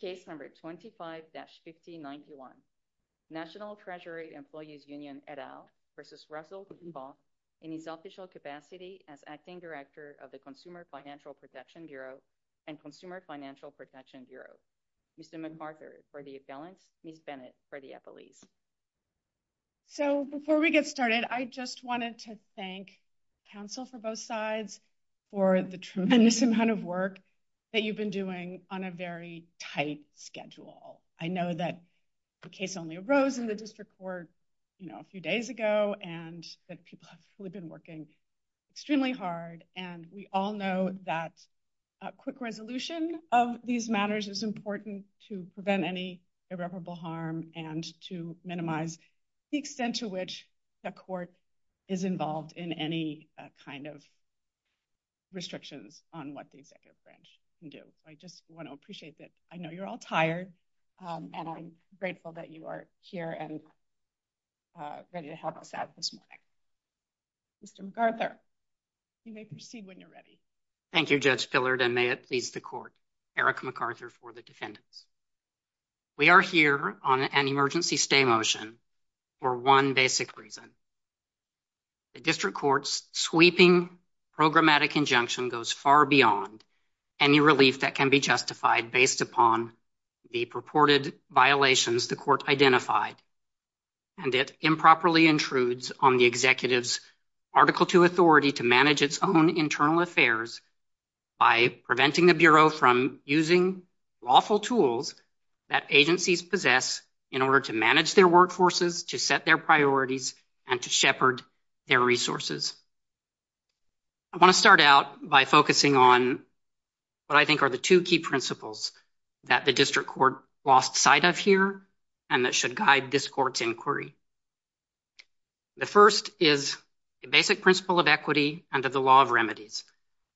v. Russell Vought in his official capacity as Acting Director of the Consumer Financial Protection Bureau and Consumer Financial Protection Bureau. Ms. McArthur for the assailant, Ms. Bennett for the appellee. So before we get started, I just wanted to thank counsel for both sides for the tremendous amount of work that you've been doing on a very tight schedule. I know that the case only arose in the district court, you know, a few days ago and that people have been working extremely hard and we all know that a quick resolution of these matters is important to prevent any irreparable harm and to minimize the extent to which the court is involved in any kind of restrictions on what the executive branch can do. So I just want to appreciate that. I know you're all tired and I'm grateful that you are here and ready to help us out this morning. Mr. McArthur, you may proceed when you're ready. Thank you Judge Fillard and may it please the court. Eric McArthur for the defendant. We are here on an emergency stay motion for one basic reason. The district court's sweeping programmatic injunction goes far beyond any relief that can be justified based upon the purported violations the court identified and it improperly intrudes on the executive's Article II authority to manage its own internal affairs by preventing the Bureau from using lawful tools that agencies possess in order to manage their workforces, to set their priorities, and to shepherd their resources. I want to start out by focusing on what I think are the two key principles that the district court lost sight of here and that should guide this court's inquiry. The first is the basic principle of equity under the law of remedies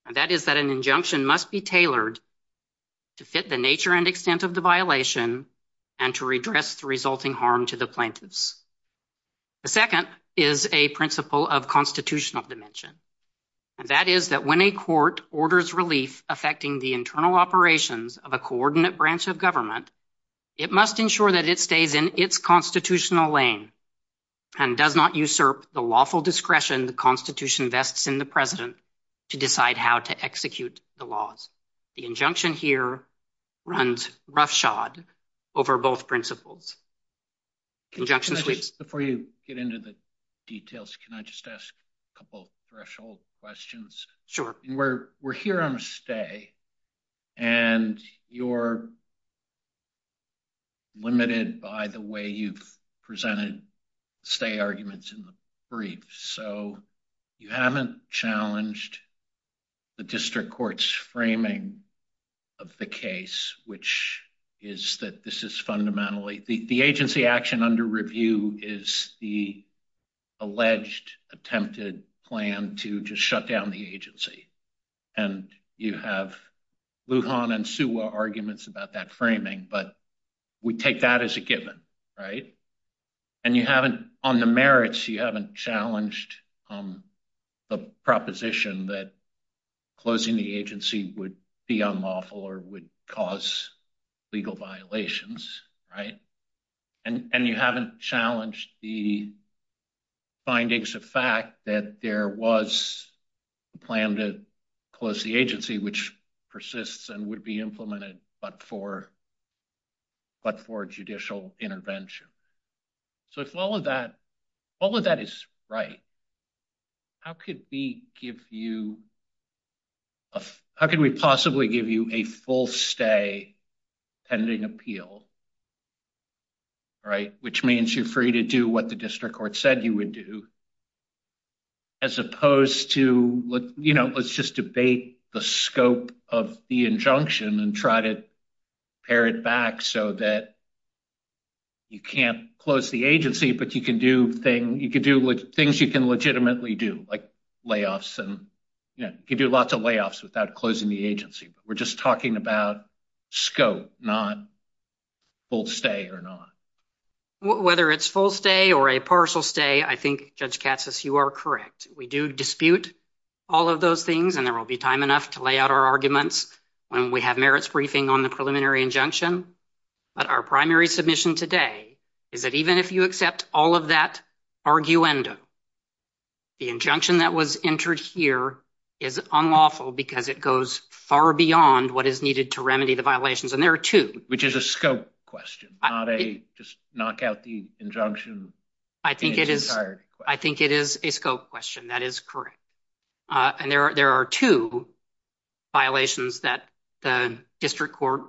and that is that an injunction must be tailored to fit the nature and extent of the violation and to address the resulting harm to the plaintiffs. The second is a principle of constitutional dimension and that is that when a court orders relief affecting the internal operations of a coordinate branch of government, it must ensure that it stays in its constitutional lane and does not usurp the lawful discretion the Constitution vests in the President to decide how to execute the laws. The injunction here runs roughshod over both principles. Before you get into the details, can I just ask a couple threshold questions? We're here on a stay and you're limited by the way you've presented stay arguments in brief. So you haven't challenged the district court's framing of the case, which is that this is fundamentally the agency action under review is the alleged attempted plan to just shut down the agency. And you have Lujan and Sewell arguments about that framing, but we take that as a given, right? And on the merits, you haven't challenged the proposition that closing the agency would be unlawful or would cause legal violations, right? And you haven't challenged the findings of fact that there was a plan to close the agency, which persists and would be implemented, but for judicial intervention. So if all of that is right, how could we possibly give you a full stay pending appeal, right? Which means you're free to do what the district court said you would do. As opposed to, let's just debate the scope of the injunction and try to pare it back so that you can't close the agency, but you can do things you can legitimately do, like layoffs and give you lots of layoffs without closing the agency. But we're just talking about scope, not full stay or not. Whether it's full stay or a partial stay, I think Judge Katsas, you are correct. We do dispute all of those things and there will be time enough to lay out our arguments when we have merits briefing on the preliminary injunction. But our primary submission today is that even if you accept all of that arguenda, the injunction that was entered here is unlawful because it goes far beyond what is needed to remedy the violations. And there are two. Which is a scope question, not a just knock out the injunction. I think it is a scope question. That is correct. And there are two violations that the district court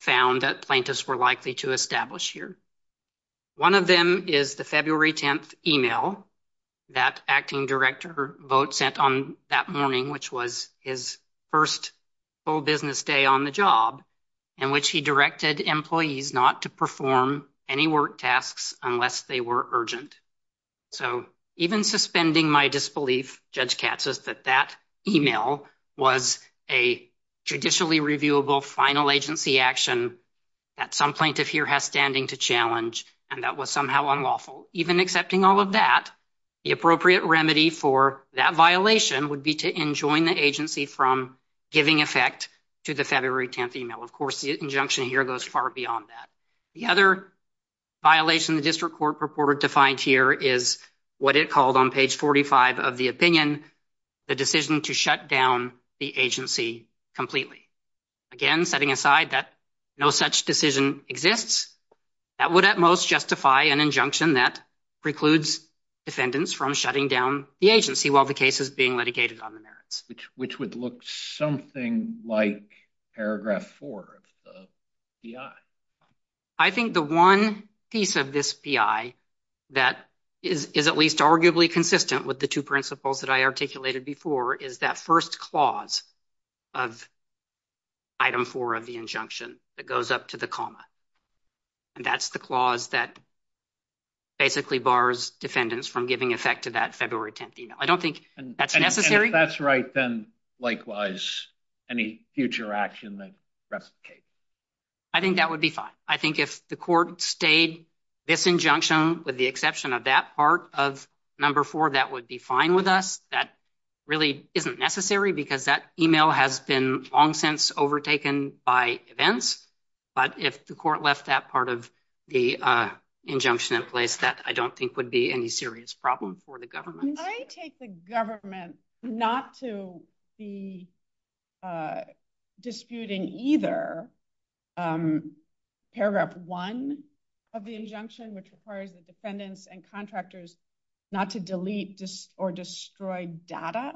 found that plaintiffs were likely to establish here. One of them is the February 10th email that acting director Vought sent on that morning, which was his first full business day on the job, in which he directed employees not to perform any work tasks unless they were urgent. So, even suspending my disbelief, Judge Katsas, that that email was a traditionally reviewable final agency action that some plaintiff here has standing to challenge and that was somehow unlawful. Even accepting all of that, the appropriate remedy for that violation would be to enjoin the agency from giving effect to the February 10th email. Of course, the injunction here goes far beyond that. The other violation the district court purported to find here is what it called on page 45 of the opinion, the decision to shut down the agency completely. Again, setting aside that no such decision exists, that would at most justify an injunction that precludes defendants from shutting down the agency while the case is being litigated on the merits. Which would look something like paragraph four of the BI. I think the one piece of this BI that is at least arguably consistent with the two principles that I articulated before is that first clause of item four of the injunction that goes up to the comma. And that's the clause that basically bars defendants from giving effect to that February 10th email. I don't think that's necessary. And if that's right, then likewise any future action that replicates. I think that would be fine. I think if the court stayed this injunction with the exception of that part of number four, that would be fine with us. That really isn't necessary because that email has been long since overtaken by events. But if the court left that part of the injunction in place, that I don't think would be any serious problem for the government. I take the government not to be disputing either paragraph one of the injunction, which requires the defendants and contractors not to delete or destroy data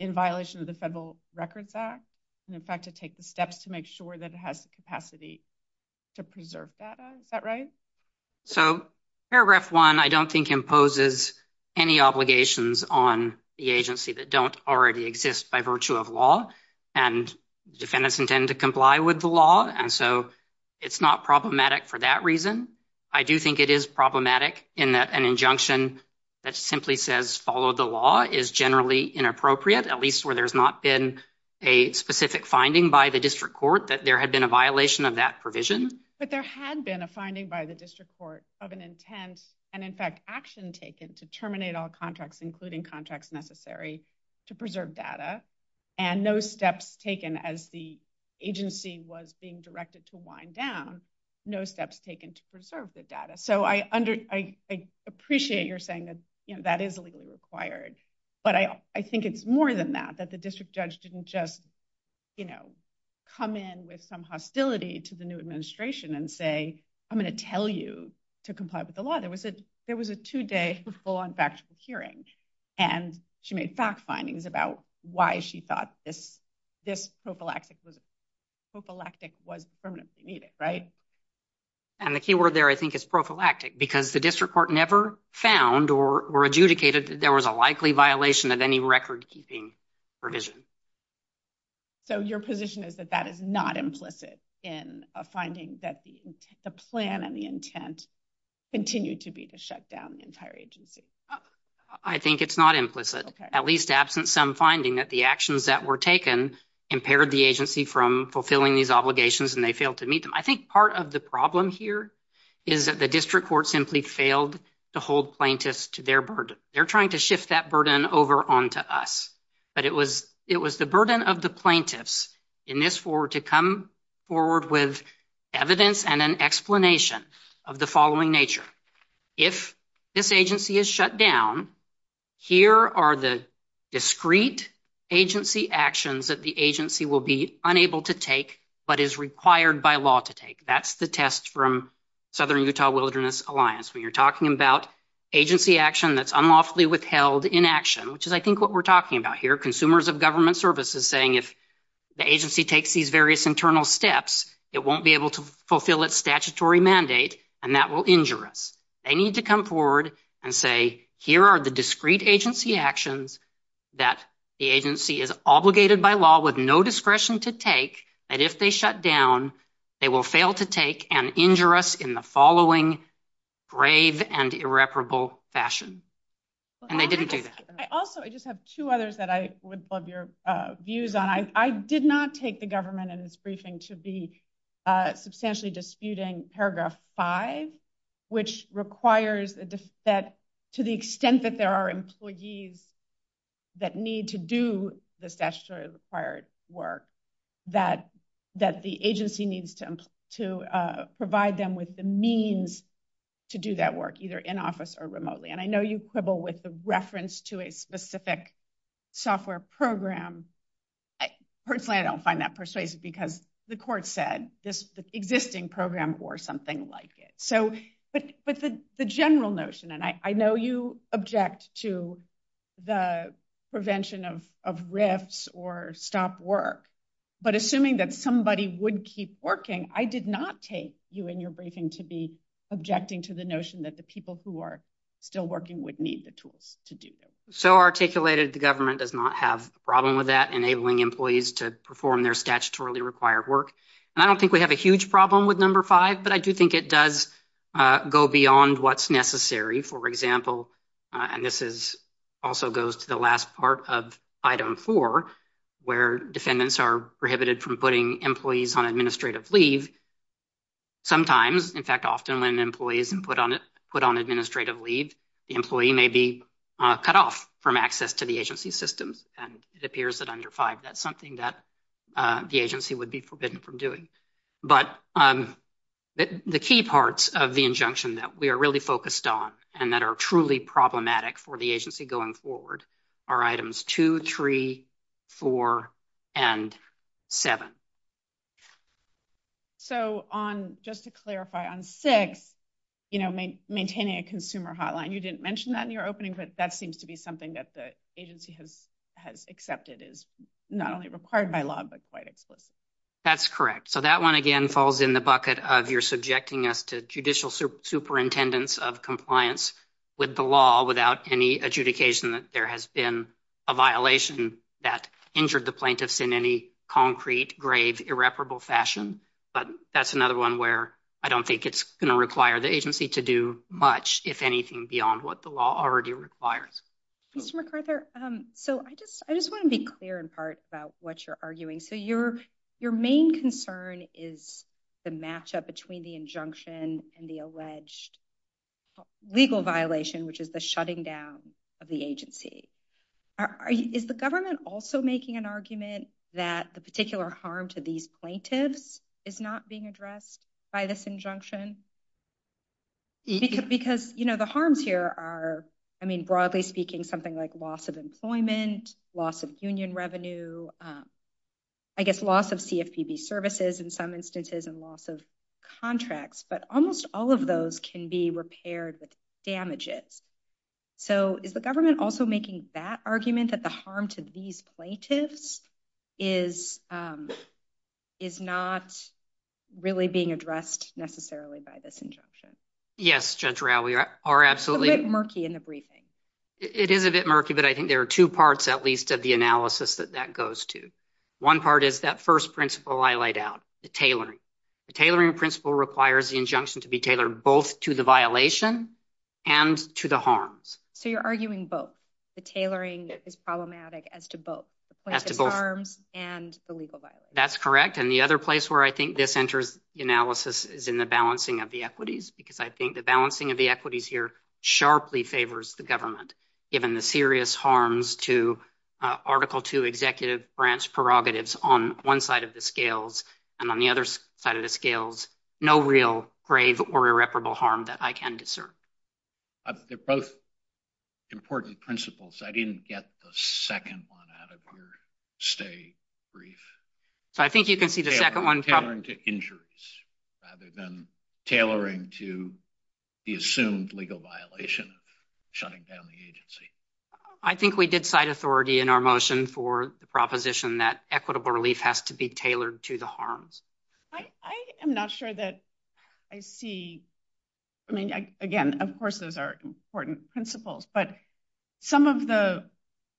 in violation of the Federal Records Act. And in fact, to take the steps to make sure that it has the capacity to preserve data. Is that right? So paragraph one, I don't think imposes any obligations on the agency that don't already exist by virtue of law and defendants intend to comply with the law. And so it's not problematic for that reason. I do think it is problematic in that an injunction that simply says follow the law is generally inappropriate, at least where there's not been a specific finding by the district court that there had been a violation of that provision. But there had been a finding by the district court of an intent, and in fact, action taken to terminate all contracts, including contracts necessary to preserve data. And no steps taken as the agency was being directed to wind down, no steps taken to preserve the data. So I appreciate your saying that that is legally required. But I think it's more than that, that the district judge didn't just come in with some hostility to the new administration and say, I'm going to tell you to comply with the law. There was a two-day full-on factual hearing, and she made fact findings about why she thought this prophylactic was permanently needed, right? And the key word there, I think, is prophylactic, because the district court never found or adjudicated that there was a likely violation of any record-keeping provision. So your position is that that is not implicit in a finding that the plan and the intent continued to be to shut down the entire agency? I think it's not implicit, at least absent some finding that the actions that were taken impaired the agency from fulfilling these obligations, and they failed to meet them. I think part of the problem here is that the district court simply failed to hold plaintiffs to their burden. They're trying to shift that burden over onto us. But it was the burden of the plaintiffs in this forward to come forward with evidence and an explanation of the following nature. If this agency is shut down, here are the discrete agency actions that the agency will be unable to take but is required by law to take. That's the test from Southern Utah Wilderness Alliance. When you're talking about agency action that's unlawfully withheld in action, which is, I hear consumers of government services saying if the agency takes these various internal steps, it won't be able to fulfill its statutory mandate, and that will injure us. They need to come forward and say, here are the discrete agency actions that the agency is obligated by law with no discretion to take, and if they shut down, they will fail to take and injure us in the following brave and irreparable fashion. And they didn't do that. I also, I just have two others that I would love your views on. I did not take the government and its briefing to be substantially disputing paragraph five, which requires that to the extent that there are employees that need to do the statutorily required work, that the agency needs to provide them with the means to do that work, either in office or remotely. And I know you quibble with the reference to a specific software program. Personally, I don't find that persuasive because the court said this existing program or something like it. So, but the general notion, and I know you object to the prevention of rifts or stop work, but assuming that somebody would keep working, I did not take you and your briefing to be objecting to the notion that the people who are still working would need the tools to do this. So articulated, the government does not have a problem with that, enabling employees to perform their statutorily required work. And I don't think we have a huge problem with number five, but I do think it does go beyond what's necessary. For example, and this is also goes to the last part of item four, where defendants are prohibited from putting employees on administrative leave, sometimes, in fact, often when employees put on administrative leave, the employee may be cut off from access to the agency systems. And it appears that under five, that's something that the agency would be forbidden from doing. But the key parts of the injunction that we are really focused on and that are truly problematic for the agency going forward are items two, three, four, and seven. So just to clarify, on six, maintaining a consumer hotline, you didn't mention that in your opening, but that seems to be something that the agency has accepted is not only required by law, but quite explicitly. That's correct. So that one, again, falls in the bucket of you're subjecting us to judicial superintendents of compliance with the law without any adjudication that there has been a violation that injured the plaintiffs in any concrete, grave, irreparable fashion. But that's another one where I don't think it's going to require the agency to do much, if anything, beyond what the law already requires. Mr. McArthur, so I just want to be clear, in part, about what you're arguing. So your main concern is the matchup between the injunction and the alleged legal violation, which is the shutting down of the agency. Is the government also making an argument that the particular harm to these plaintiffs is not being addressed by this injunction? Because the harms here are, I mean, broadly speaking, something like loss of employment, loss of union revenue, I guess loss of CFPB services in some instances, and loss of contracts. But almost all of those can be repaired with damages. So is the government also making that argument that the harm to these plaintiffs is not really being addressed necessarily by this injunction? Yes, Judge Rowe, we are absolutely— A bit murky in the briefing. It is a bit murky, but I think there are two parts, at least, of the analysis that that goes to. One part is that first principle I laid out, the tailoring. The tailoring principle requires the injunction to be tailored both to the violation and to the harms. So you're arguing both. The tailoring is problematic as to both the harms and the legal violation. That's correct. And the other place where I think this enters the analysis is in the balancing of the equities, because I think the balancing of the equities here sharply favors the government, given the serious harms to Article II executive branch prerogatives on one side of the scales and on the other side of the scales. No real grave or irreparable harm that I can discern. They're both important principles. I didn't get the second one out of your stay brief. So I think you can see the second one— having been tailoring to the assumed legal violation of shutting down the agency. I think we did cite authority in our motion for the proposition that equitable relief has to be tailored to the harms. I am not sure that I see—I mean, again, of course, those are important principles, but some of the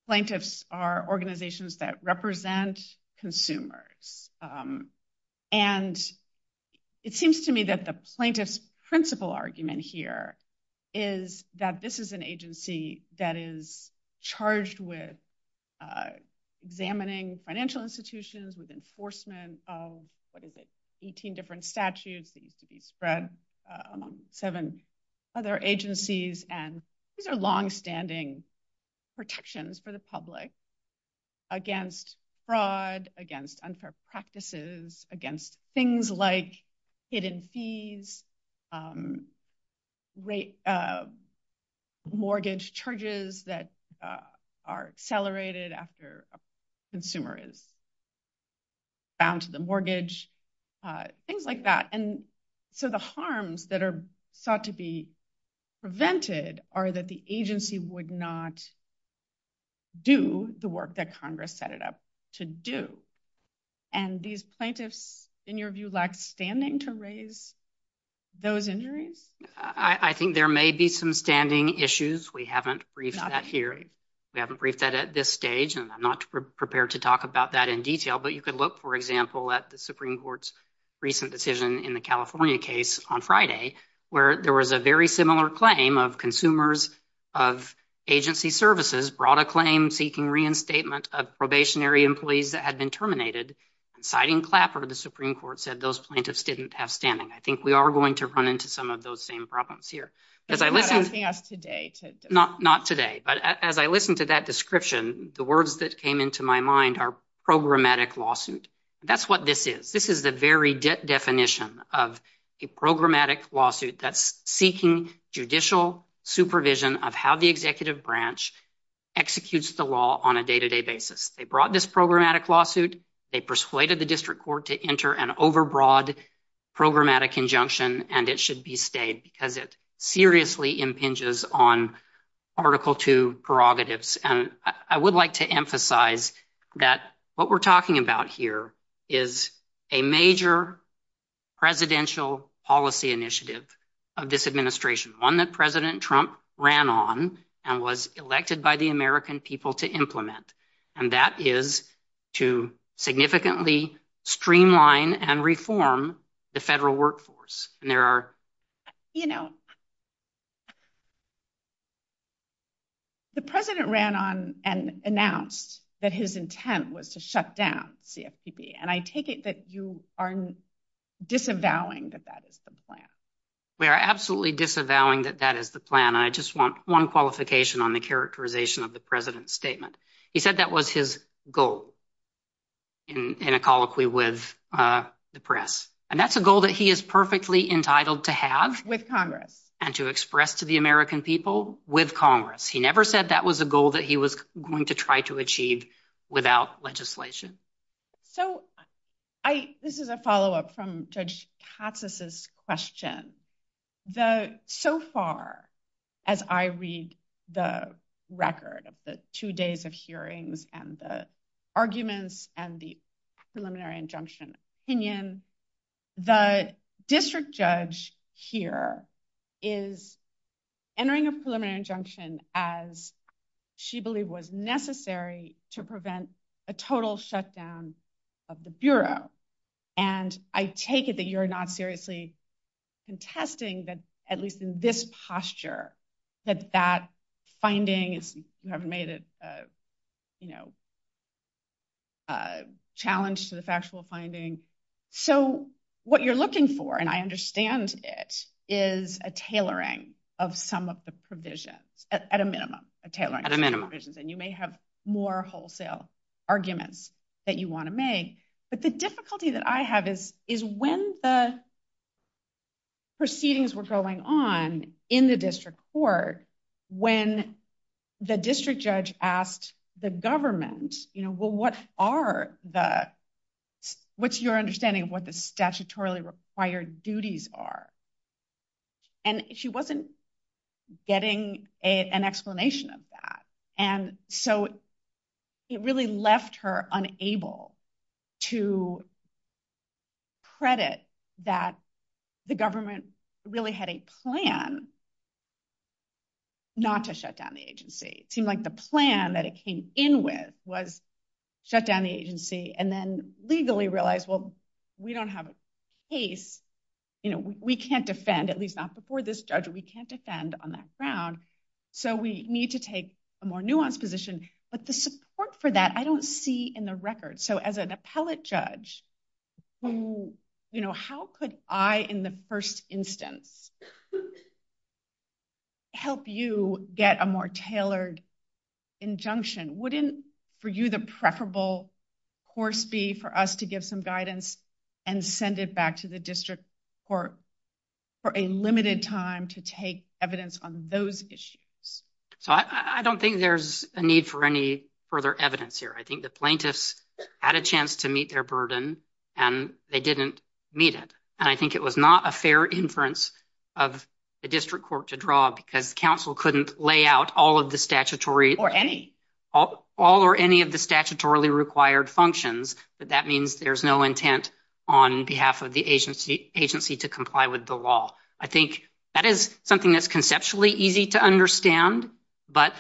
plaintiffs are organizations that represent consumers. And it seems to me that the plaintiff's principal argument here is that this is an agency that is charged with examining financial institutions, with enforcement of—what is it?— 18 different statutes that need to be spread among seven other agencies. And these are longstanding protections for the public against fraud, against unfair practices, against things like hidden fees, mortgage charges that are accelerated after a consumer is bound to the mortgage, things like that. And so the harms that are thought to be prevented are that the agency would not do the work that Congress set it up to do. And these plaintiffs, in your view, lack standing to raise those injuries? I think there may be some standing issues. We haven't briefed that here. We haven't briefed that at this stage, and I'm not prepared to talk about that in detail. But you could look, for example, at the Supreme Court's recent decision in the California case on Friday, where there was a very similar claim of consumers of agency services brought a claim seeking reinstatement of probationary employees that had been terminated, citing Clapper. The Supreme Court said those plaintiffs didn't have standing. I think we are going to run into some of those same problems here. You're not asking us today. Not today. But as I listened to that description, the words that came into my mind are programmatic lawsuit. That's what this is. This is the very definition of a programmatic lawsuit that's seeking judicial supervision of how the executive branch executes the law on a day-to-day basis. They brought this programmatic lawsuit. They persuaded the district court to enter an overbroad programmatic injunction, and it should be stayed because it seriously impinges on Article II prerogatives. I would like to emphasize that what we're talking about here is a major presidential policy initiative of this administration, one that President Trump ran on and was elected by the American people to implement, and that is to significantly streamline and reform the federal workforce. The president ran on and announced that his intent was to shut down CFPB, and I take it that you are disavowing that that is the plan. We are absolutely disavowing that that is the plan. I just want one qualification on the characterization of the president's statement. He said that was his goal in a colloquy with the press, and that's a goal that he is perfectly entitled to have- With Congress.... and to express to the American people with Congress. He never said that was a goal that he was going to try to achieve without legislation. So this is a follow-up from Judge Totsis' question. So far, as I read the record of the two days of hearings and the arguments and the preliminary injunction opinion, the district judge here is entering a preliminary injunction as she believed was necessary to prevent a total shutdown of the Bureau, and I take it that you're not seriously contesting that, at least in this posture, that that finding, if you will, finding. So what you're looking for, and I understand it, is a tailoring of some of the provisions, at a minimum, a tailoring- At a minimum.... and you may have more wholesale arguments that you want to make, but the difficulty that I have is when the proceedings were going on in the district court, when the district judge asked the government, well, what's your understanding of what the statutorily required duties are? And she wasn't getting an explanation of that. And so it really left her unable to credit that the government really had a plan not to shut down the agency. It seemed like the plan that it came in with was shut down the agency and then legally realize, well, we don't have a case. We can't defend, at least not before this judge, we can't defend on that ground, so we need to take a more nuanced position. But the support for that, I don't see in the record. So as an appellate judge, how could I, in the first instance, help you get a more tailored injunction? Wouldn't, for you, the preferable course be for us to give some guidance and send it back to the district court for a limited time to take evidence on those issues? So I don't think there's a need for any further evidence here. I think the plaintiffs had a chance to meet their burden and they didn't meet it. And I think it was not a fair inference of the district court to draw because counsel couldn't lay out all of the statutory or any of the statutorily required functions, but that means there's no intent on behalf of the agency to comply with the law. I think that is something that's conceptually easy to understand, but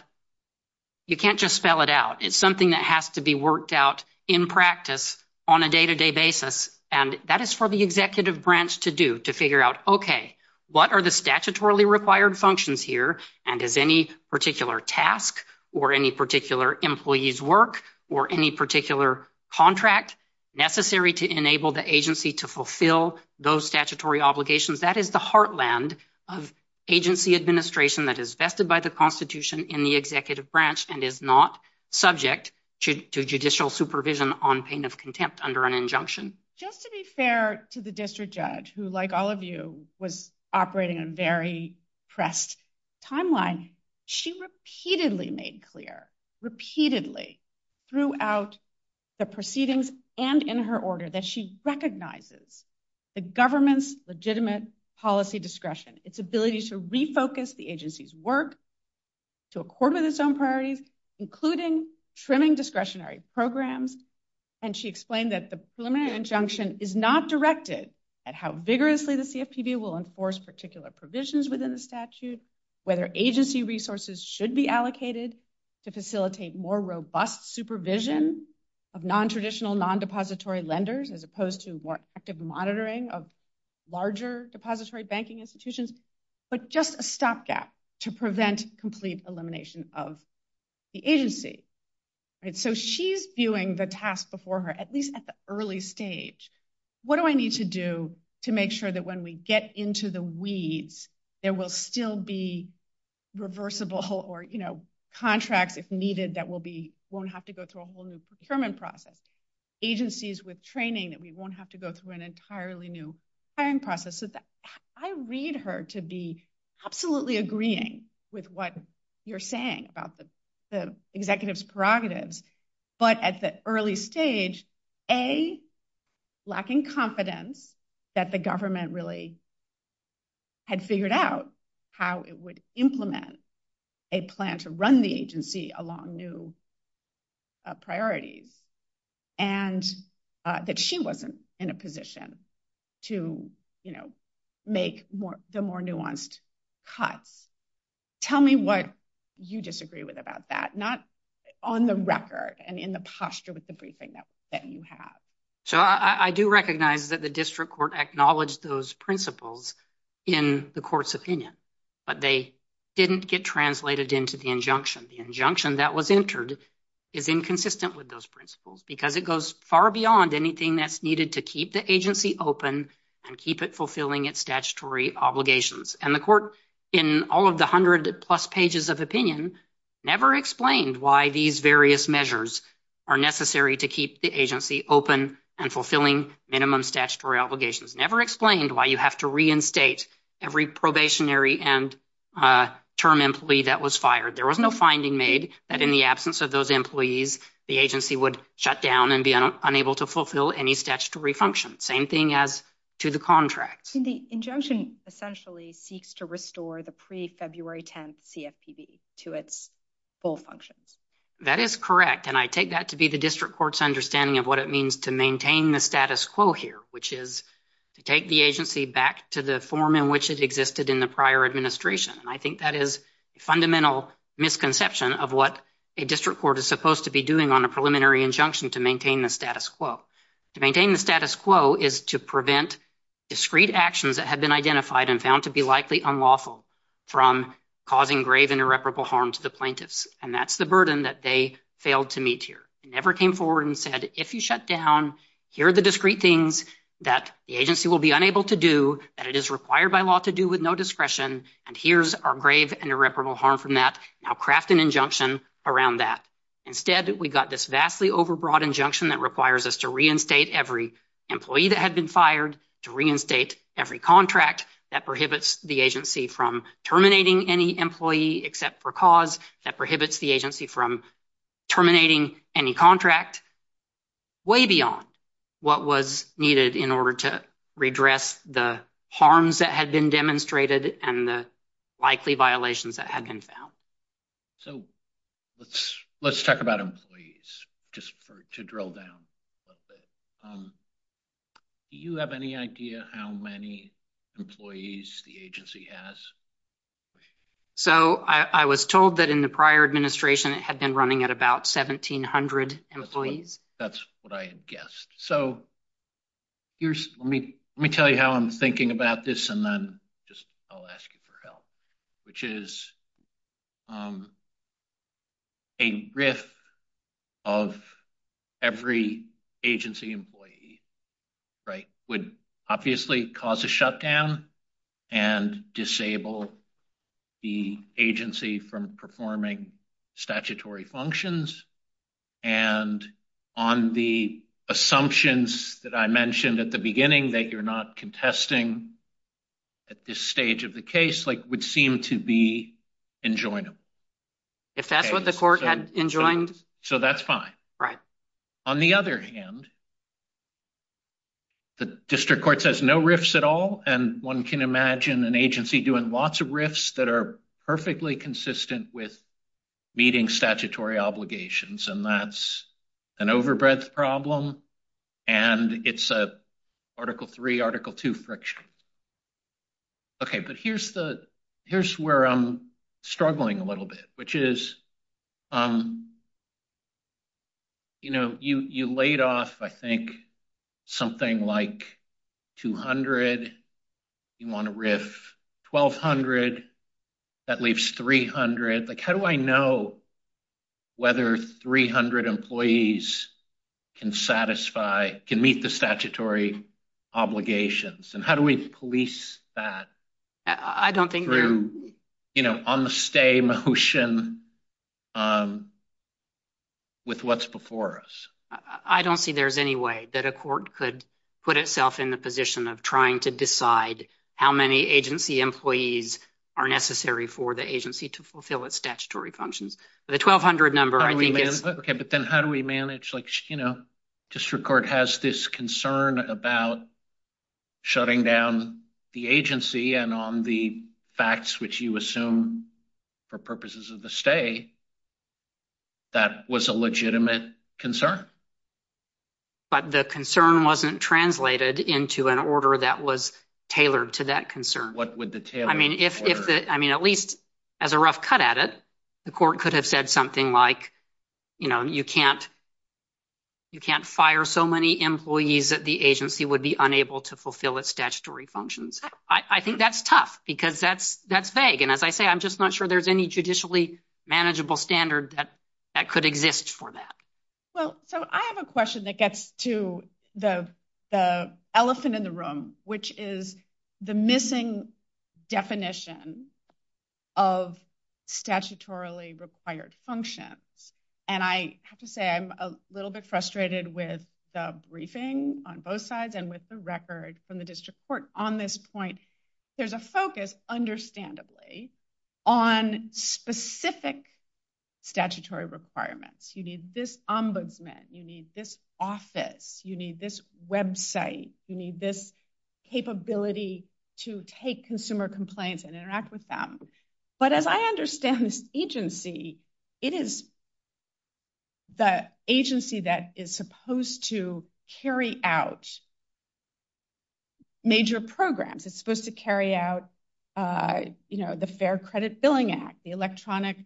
you can't just spell it out. It's something that has to be worked out in practice on a day-to-day basis. And that is for the executive branch to do, to figure out, okay, what are the statutorily required functions here? And is any particular task or any particular employee's work or any particular contract necessary to enable the agency to fulfill those statutory obligations? That is the heartland of agency administration that is vested by the Constitution in the executive branch and is not subject to judicial supervision on pain of contempt under an injunction. Just to be fair to the district judge who, like all of you, was operating on a very pressed timeline, she repeatedly made clear, repeatedly throughout the proceedings and in her order that she recognizes the government's legitimate policy discretion, its ability to refocus the agency's work to accord with its own priorities, including trimming discretionary programs. And she explained that the preliminary injunction is not directed at how vigorously the CFPB will enforce particular provisions within the statute, whether agency resources should be allocated to facilitate more robust supervision of non-traditional, non-depository lenders as opposed to more active monitoring of larger depository banking institutions, but just a stopgap to prevent complete elimination of the agency. So she's viewing the task before her, at least at the early stage. What do I need to do to make sure that when we get into the weeds, there will still be reversible or, you know, contracts if needed that won't have to go through a whole new procurement process? Agencies with training that we won't have to go through an entirely new hiring process. I read her to be absolutely agreeing with what you're saying about the executive's prerogatives. But at the early stage, A, lacking confidence that the government really had figured out how it would implement a plan to run the agency along new priorities. And that she wasn't in a position to, you know, make the more nuanced cut. Tell me what you disagree with about that, not on the record and in the posture with the briefing that you have. So I do recognize that the district court acknowledged those principles in the court's opinion, but they didn't get translated into the injunction. The injunction that was entered is inconsistent with those principles because it goes far beyond anything that's needed to keep the agency open and keep it fulfilling its statutory obligations. And the court, in all of the hundred plus pages of opinion, never explained why these various measures are necessary to keep the agency open and fulfilling minimum statutory obligations. Never explained why you have to reinstate every probationary and term employee that was fired. There was no finding made that in the absence of those employees, the agency would shut down and be unable to fulfill any statutory function. Same thing as to the contract. The injunction essentially seeks to restore the pre-February 10th CFPB to its full function. That is correct. And I take that to be the district court's understanding of what it means to maintain the status quo here, which is to take the agency back to the form in which it existed in the prior administration. I think that is a fundamental misconception of what a district court is supposed to be doing on a preliminary injunction to maintain the status quo. To maintain the status quo is to prevent discrete actions that have been identified and found to be likely unlawful from causing grave and irreparable harm to the plaintiffs. And that's the burden that they failed to meet here. It never came forward and said, if you shut down, here are the discrete things that the agency will be unable to do, that it is required by law to do with no discretion, and here's our grave and irreparable harm from that. Now craft an injunction around that. Instead, we've got this vastly overbroad injunction that requires us to reinstate every employee that had been fired, to reinstate every contract that prohibits the agency from terminating any employee except for cause, that prohibits the agency from terminating any contract, way beyond what was needed in order to redress the harms that had been demonstrated and the likely violations that had been found. So let's talk about employees, just to drill down a little bit. Do you have any idea how many employees the agency has? So I was told that in the prior administration, it had been running at about 1,700 employees. That's what I had guessed. So let me tell you how I'm thinking about this, and then I'll ask you for help, which is a RIF of every agency employee would obviously cause a shutdown and disable the agency from performing statutory functions, and on the assumptions that I mentioned at the beginning that you're not contesting at this stage of the case, like, would seem to be enjoinable. If that's what the court had enjoined. So that's fine. Right. On the other hand, the district court says no RIFs at all, and one can imagine an agency doing lots of RIFs that are perfectly consistent with meeting statutory obligations, and that's an overbreadth problem, and it's a Article III, Article II friction. Okay. But here's where I'm struggling a little bit, which is, you know, you laid off, I think, something like 200, you want a RIF 1,200, that leaves 300. Like, how do I know whether 300 employees can satisfy, can meet the statutory obligations, and how do we police that through, you know, on the stay motion with what's before us? I don't see there's any way that a court could put itself in the position of trying to decide how many agency employees are necessary for the agency to fulfill its statutory functions. The 1,200 number, I think is... Okay. But then how do we manage, like, you know, district court has this concern about shutting down the agency, and on the facts which you assume for purposes of the stay, that was a legitimate concern. But the concern wasn't translated into an order that was tailored to that concern. What would the tailor? I mean, at least as a rough cut at it, the court could have said something like, you know, you can't fire so many employees that the agency would be unable to fulfill its statutory functions. I think that's tough, because that's vague, and as I say, I'm just not sure there's any manageable standard that could exist for that. Well, so I have a question that gets to the elephant in the room, which is the missing definition of statutorily required function. And I have to say I'm a little bit frustrated with the briefing on both sides and with the record from the district court on this point. There's a focus, understandably, on specific statutory requirements. You need this ombudsman. You need this office. You need this website. You need this capability to take consumer complaints and interact with them. But as I understand this agency, it is the agency that is supposed to carry out major programs. It's supposed to carry out, you know, the Fair Credit Billing Act, the Electronic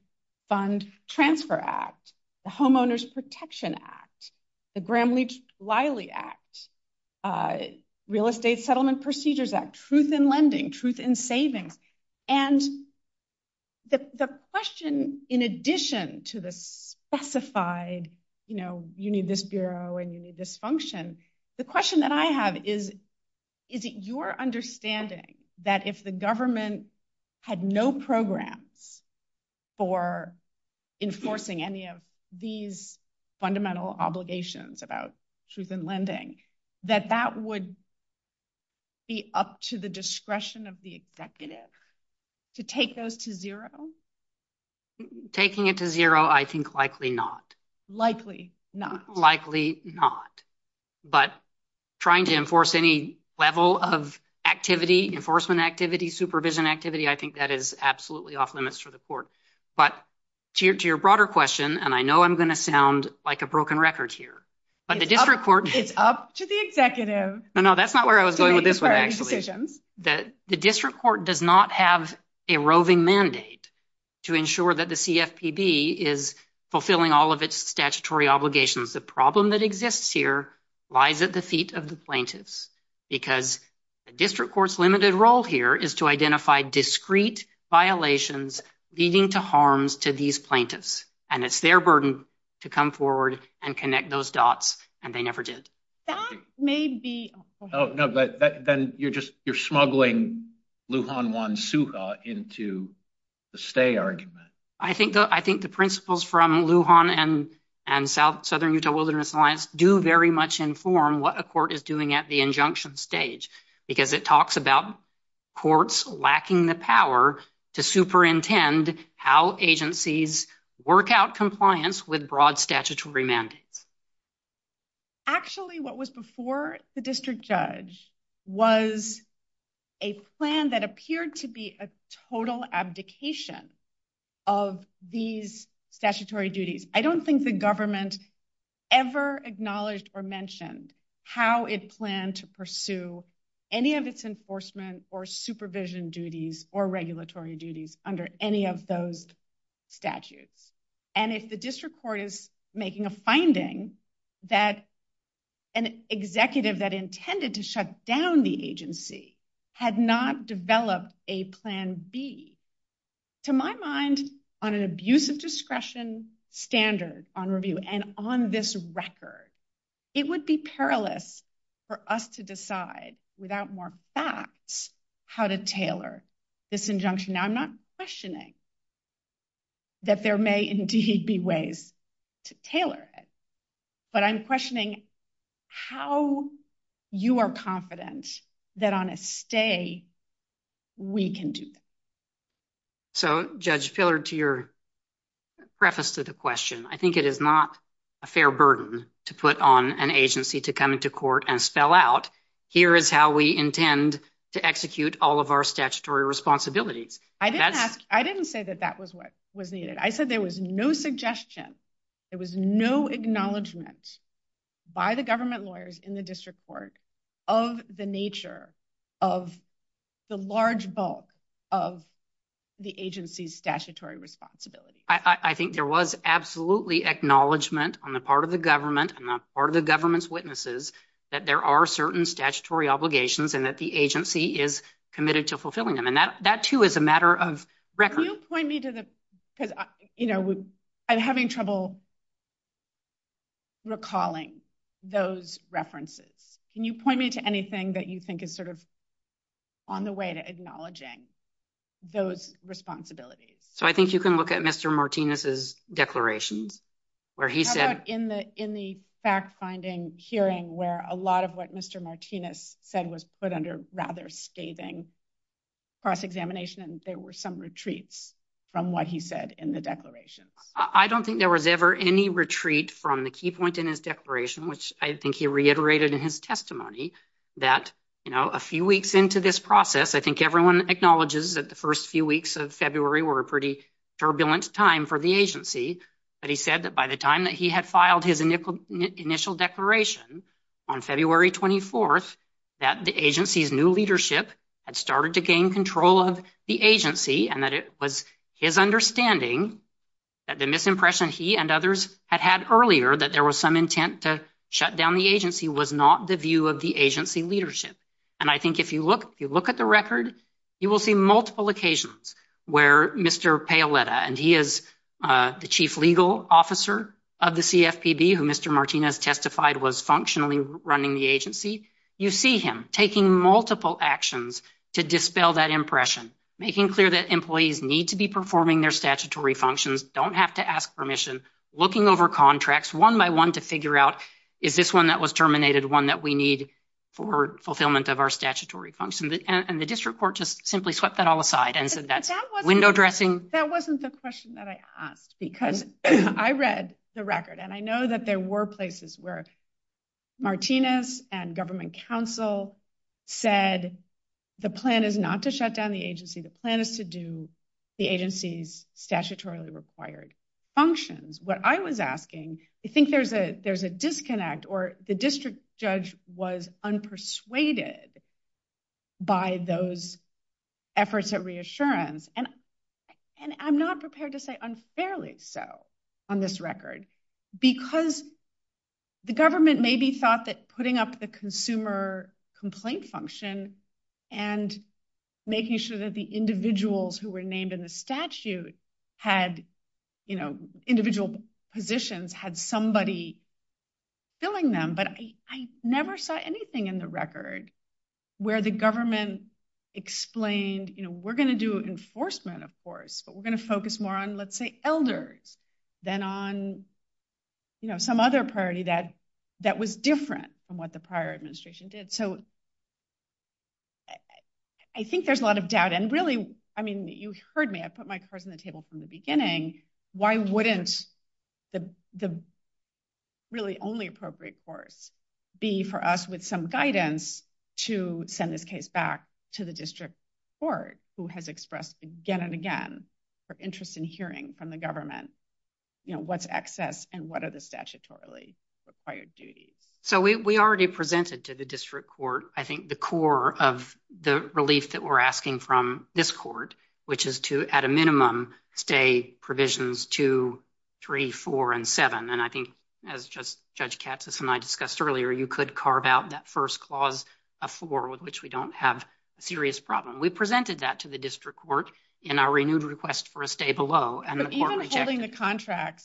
Fund Transfer Act, the Homeowners Protection Act, the Gramm-Leach-Liley Act, Real Estate Settlement Procedures Act, truth in lending, truth in saving. And the question, in addition to the specified, you know, you need this bureau and you need this function, the question that I have is, is it your understanding that if the government had no programs for enforcing any of these fundamental obligations about truth in lending, that that would be up to the discretion of the executive to take those to zero? Taking it to zero, I think likely not. Likely not. Likely not. But trying to enforce any level of activity, enforcement activity, supervision activity, I think that is absolutely off limits for the court. But to your broader question, and I know I'm going to sound like a broken record here, but the district court- It's up to the executive- No, no, that's not where I was going with this one, actually. The district court does not have a roving mandate to ensure that the CFPB is fulfilling all of its statutory obligations. The problem that exists here lies at the feet of the plaintiffs, because the district court's limited role here is to identify discrete violations leading to harms to these plaintiffs. And it's their burden to come forward and connect those dots, and they never did. That may be- Oh, no, but then you're smuggling Lujan Juan Suga into the stay argument. I think the principles from Lujan and Southern Utah Wilderness Alliance do very much inform what a court is doing at the injunction stage, because it talks about courts lacking the power to superintend how agencies work out compliance with broad statutory mandates. Actually, what was before the district judge was a plan that appeared to be a total abdication of these statutory duties. I don't think the government ever acknowledged or mentioned how it planned to pursue any of its enforcement or supervision duties or regulatory duties under any of those statutes. And if the district court is making a finding that an executive that intended to shut down the agency had not developed a plan B, to my mind, on an abuse of discretion standard on review and on this record, it would be perilous for us to decide without more facts how to tailor this injunction. Now, I'm not questioning that there may indeed be ways to tailor it, but I'm questioning how you are confident that on a stay, we can do it. So, Judge Fillard, to your preface to the question, I think it is not a fair burden to put on an agency to come into court and spell out, here is how we intend to execute all of our statutory responsibilities. I didn't ask. I didn't say that that was what was needed. I said there was no suggestion. There was no acknowledgement by the government lawyers in the district court of the nature of the large bulk of the agency's statutory responsibility. I think there was absolutely acknowledgement on the part of the government and the part of the government's witnesses that there are certain statutory obligations and that the agency is committed to fulfilling them. And that, too, is a matter of record. Can you point me to the, because, you know, I'm having trouble recalling those references. Can you point me to anything that you think is sort of on the way to acknowledging those responsibilities? So, I think you can look at Mr. Martinez's declaration, where he said in the fact-finding hearing, where a lot of what Mr. Martinez said was put under rather scathing cross-examination, there were some retreats from what he said in the declaration. I don't think there was ever any retreat from the key point in his declaration, which I think he reiterated in his testimony, that, you know, a few weeks into this process, I think everyone acknowledges that the first few weeks of February were a pretty turbulent time for the agency. But he said that by the time that he had filed his initial declaration on February 24th, that the agency's new leadership had started to gain control of the agency and that it was his understanding that the misimpression he and others had had earlier, that there was some intent to shut down the agency, was not the view of the agency leadership. And I think if you look at the record, you will see multiple occasions where Mr. Paoletta and he is the chief legal officer of the CFPB, who Mr. Martinez testified was functionally running the agency. You see him taking multiple actions to dispel that impression, making clear that employees need to be performing their statutory functions, don't have to ask permission, looking over contracts one by one to figure out, is this one that was terminated one that we need for fulfillment of our statutory functions? And the district court just simply swept that all aside and said that window dressing- That's a question that I asked because I read the record and I know that there were places where Martinez and government counsel said the plan is not to shut down the agency, the plan is to do the agency's statutorily required functions. What I was asking, I think there's a disconnect or the district judge was unpersuaded by those efforts of reassurance. And I'm not prepared to say unfairly so on this record, because the government maybe thought that putting up the consumer complaint function and making sure that the individuals who were named in the statute had individual positions, had somebody filling them. But I never saw anything in the record where the government explained, we're going to do enforcement, of course, but we're going to focus more on, let's say, elders than on some other priority that was different from what the prior administration did. So I think there's a lot of doubt. And really, I mean, you heard me, I put my cards on the table from the beginning. Why wouldn't the really only appropriate course be for us with some guidance to send this back to the district court, who has expressed again and again, her interest in hearing from the government, what's excess and what are the statutorily required duties? So we already presented to the district court, I think, the core of the relief that we're asking from this court, which is to, at a minimum, stay provisions two, three, four, and seven. And I think, as Judge Katsas and I discussed earlier, you could carve out that first clause of four, with which we don't have a serious problem. We presented that to the district court in our renewed request for a stay below. So even holding the contract,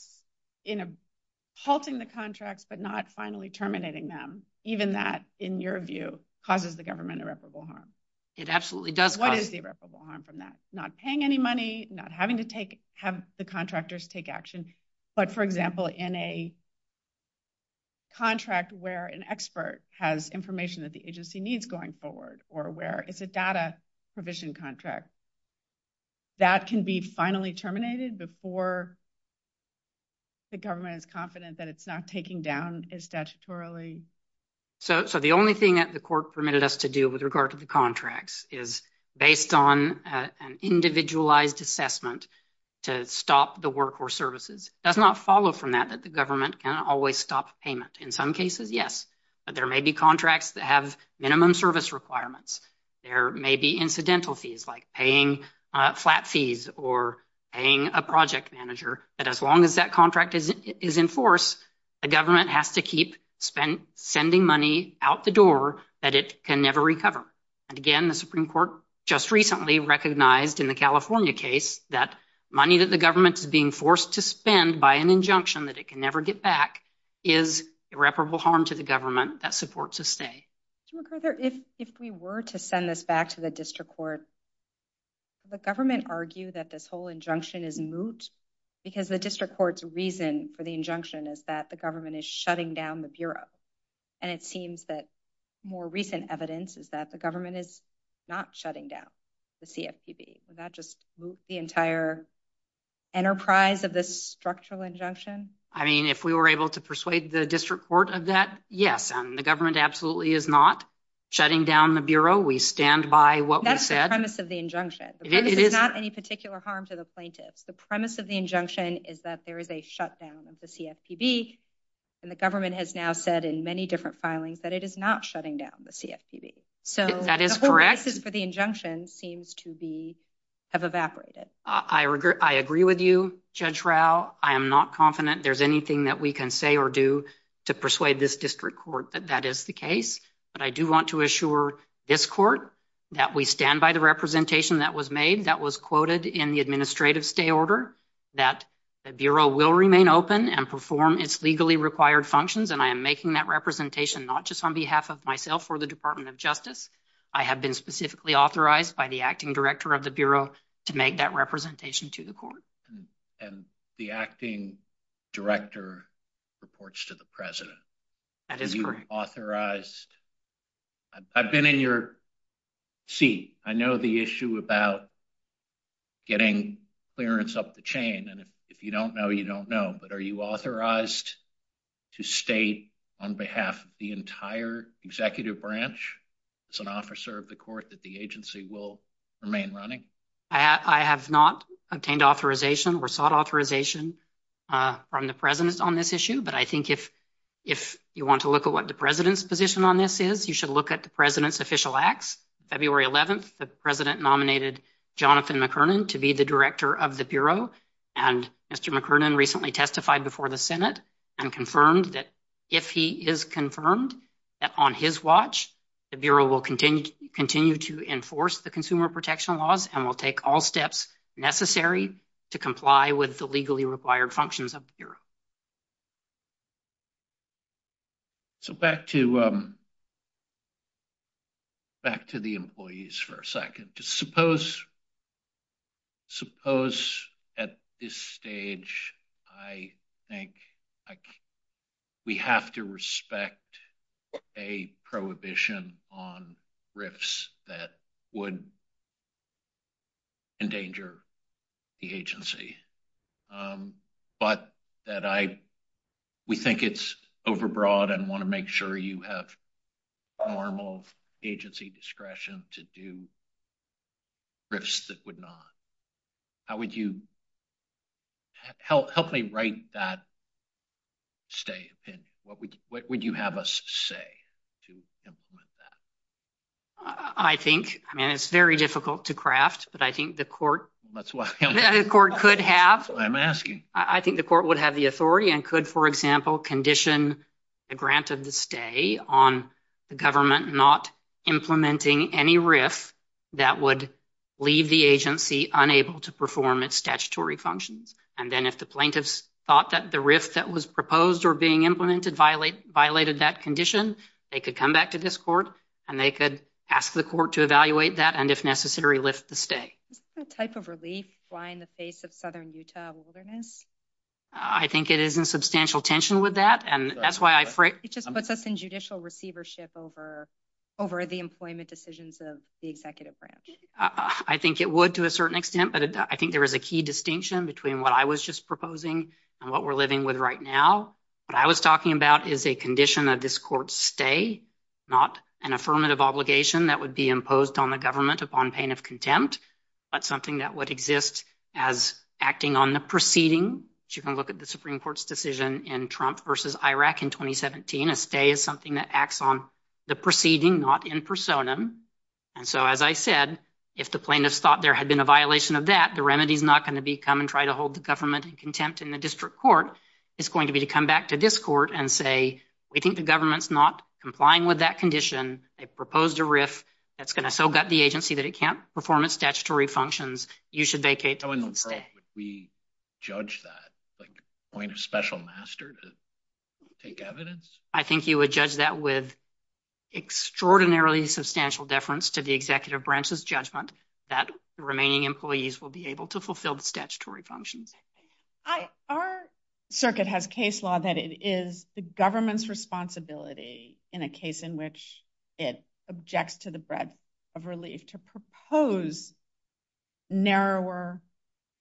halting the contract, but not finally terminating them, even that, in your view, causes the government irreparable harm. It absolutely does. What is the irreparable harm from that? Not paying any money, not having to have the contractors take action. But for example, in a contract where an expert has information that the agency needs going forward, or where it's a data provision contract, that can be finally terminated before the government is confident that it's not taking down it statutorily? So the only thing that the court permitted us to do with regard to the contracts is, based on an individualized assessment, to stop the work or services. It does not follow from that, that the government can always stop payment. In some cases, yes. But there may be contracts that have minimum service requirements. There may be incidental fees, like paying flat fees, or paying a project manager. But as long as that contract is in force, the government has to keep sending money out the door that it can never recover. And again, the Supreme Court just recently recognized, in the California case, that money that the government is being forced to spend by an injunction that it can never get back is irreparable harm to the government that supports a stay. So MacArthur, if we were to send this back to the district court, would the government argue that this whole injunction is moot? Because the district court's reason for the injunction is that the government is shutting down the bureau. And it seems that more recent evidence is that the government is not shutting down the CFPB. Would that just moot the entire enterprise of this structural injunction? I mean, if we were able to persuade the district court of that, yes. The government absolutely is not shutting down the bureau. We stand by what we said. That's the premise of the injunction. It is. It's not any particular harm to the plaintiffs. The premise of the injunction is that there is a shutdown of the CFPB. And the government has now said in many different filings that it is not shutting down the CFPB. So the whole basis for the injunction seems to have evaporated. I agree with you, Judge Rao. I am not confident there's anything that we can say or do to persuade this district court that that is the case. But I do want to assure this court that we stand by the representation that was made, that was quoted in the administrative stay order, that the bureau will remain open and perform its legally required functions. And I am making that representation not just on behalf of myself or the Department of Justice. I have been specifically authorized by the acting director of the bureau to make that representation to the court. And the acting director reports to the president. That is correct. Authorized. I've been in your seat. I know the issue about getting clearance up the chain. And if you don't know, you don't know. But are you authorized to stay on behalf of the entire executive branch as an officer of the court that the agency will remain running? I have not obtained authorization or sought authorization from the president on this issue. But I think if you want to look at what the president's position on this is, you should look at the president's official acts. February 11th, the president nominated Jonathan McKernan to be the director of the bureau. And Mr. McKernan recently testified before the Senate and confirmed that if he is confirmed that on his watch, the bureau will continue to enforce the consumer protection laws and will take all steps necessary to comply with the legally required functions of the bureau. So, back to the employees for a second. Just suppose at this stage, I think we have to respect a prohibition on RIFs that would endanger the agency, but that we think it's overbroad and want to make sure you have normal agency discretion to do RIFs that would not. Help me write that statement. What would you have us say to implement that? I think, I mean, it's very difficult to craft, but I think the court. That's why I'm asking. I think the court would have the authority and could, for example, condition the grant of the stay on the government not implementing any RIF that would leave the agency unable to perform its statutory functions. And then if the plaintiffs thought that the RIF that was proposed or being implemented violated that condition, they could come back to this court and they could ask the court to evaluate that and if necessary, lift the stay. What type of relief? Why in the face of southern Utah wilderness? I think it is in substantial tension with that. And that's why I. It just puts us in judicial receivership over the employment decisions of the executive branch. I think it would to a certain extent, but I think there is a key distinction between what I was just proposing and what we're living with right now. What I was talking about is a condition of this court stay, not an affirmative obligation that would be imposed on the government upon pain of contempt, but something that would exist as acting on the proceeding. You can look at the Supreme Court's decision in Trump versus Iraq in 2017. A stay is something that acts on the proceeding, not in personam. And so, as I said, if the plaintiffs thought there had been a violation of that, the remedy is not going to become and try to hold the government in contempt in the district court. It's going to be to come back to this court and say, we think the government's not complying with that condition. They've proposed a riff that's going to so gut the agency that it can't perform its statutory functions. You should vacate. We judge that point of special master to take evidence. I think you would judge that with extraordinarily substantial deference to the executive branch's judgment that the remaining employees will be able to fulfill the statutory function. I, our circuit has case law that it is the government's responsibility in a case in which it objects to the breadth of relief to propose narrower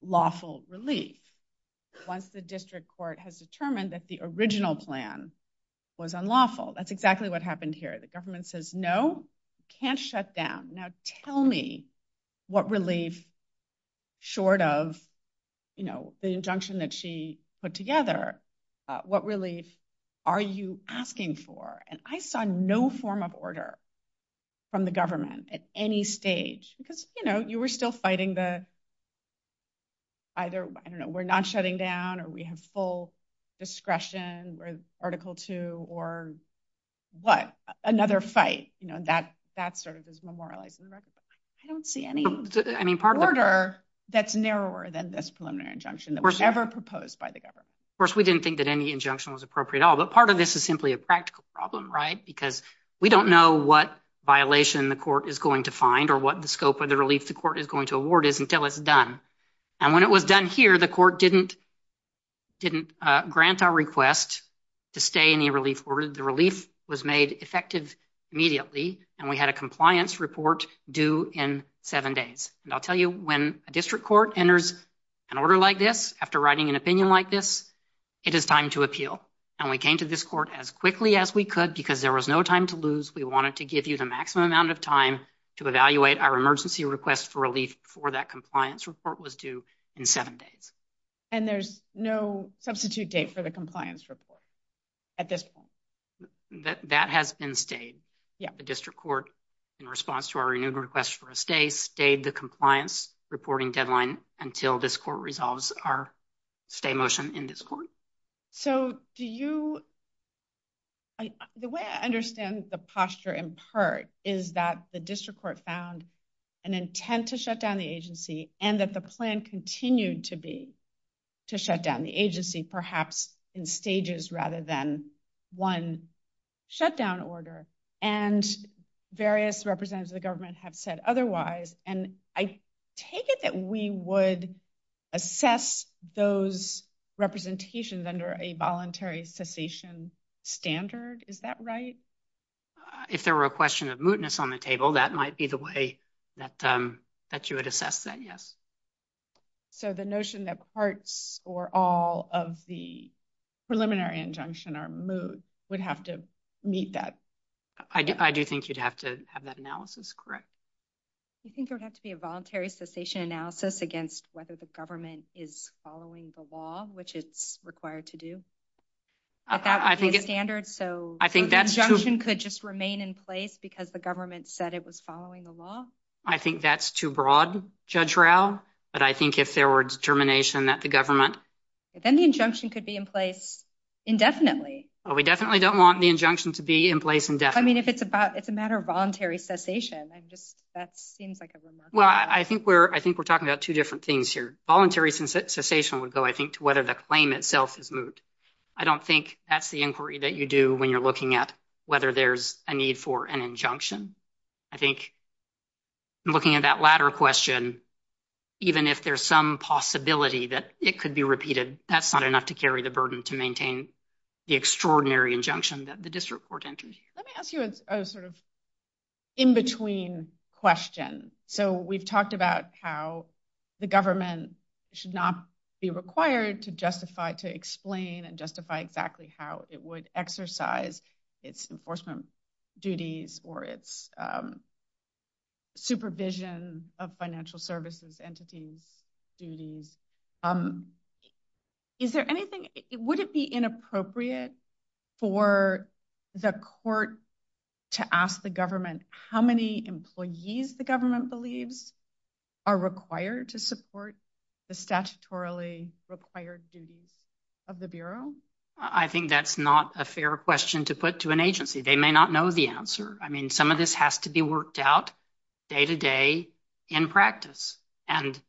lawful relief. Once the district court has determined that the original plan was unlawful, that's exactly what happened here. The government says, no, can't shut down. Tell me what relief short of the injunction that she put together, what relief are you asking for? I saw no form of order from the government at any stage because you were still fighting the, either we're not shutting down or we have full discretion or article two or what? Another fight. That's sort of his memorial. I don't see any order that's narrower than this preliminary injunction that was ever proposed by the government. Of course, we didn't think that any injunction was appropriate at all. But part of this is simply a practical problem, right? Because we don't know what violation the court is going to find or what the scope of the release the court is going to award is until it's done. And when it was done here, the court didn't grant our request to stay in the relief order. The relief was made effective immediately. And we had a compliance report due in seven days. And I'll tell you, when a district court enters an order like this, after writing an opinion like this, it is time to appeal. And we came to this court as quickly as we could because there was no time to lose. We wanted to give you the maximum amount of time to evaluate our emergency request for relief before that compliance report was due in seven days. And there's no substitute date for the compliance report at this point? That has been stayed. The district court, in response to our renewal request for a stay, stayed the compliance reporting deadline until this court resolves our stay motion in this court. So do you, the way I understand the posture in part is that the district court found an intent to shut down the agency and that the plan continued to be to shut down the agency, perhaps in stages rather than one shutdown order. And various representatives of the government have said otherwise. And I take it that we would assess those representations under a voluntary cessation standard. Is that right? If there were a question of mootness on the table, that might be the way that you would assess that, yes. So the notion that parts or all of the preliminary injunction are moot would have to meet that? I do think you'd have to have that analysis, correct? You think there would have to be a voluntary cessation analysis against whether the government is following the law, which it's required to do? I think it's standard, so the injunction could just remain in place because the government said it was following the law? I think that's too broad, Judge Rauh. But I think if there were determination that the government... Then the injunction could be in place indefinitely. Well, we definitely don't want the injunction to be in place indefinitely. I mean, if it's a matter of voluntary cessation, that seems like a remarkable... Well, I think we're talking about two different things here. Voluntary cessation would go, I think, to whether the claim itself is moot. I don't think that's the inquiry that you do when you're looking at whether there's a need for an injunction. I think looking at that latter question, even if there's some possibility that it could be repeated, that's not enough to carry the burden to maintain the extraordinary injunction that the district court entered. Let me ask you a sort of in-between question. So we've talked about how the government should not be required to explain and justify exactly how it would exercise its enforcement duties or its supervision of financial services entities. Is there anything... Would it be inappropriate for the court to ask the government how many employees the government believes are required to support the statutorily required duties of the bureau? I think that's not a fair question to put to an agency. They may not know the answer. I mean, some of this has to be worked out day-to-day in practice. And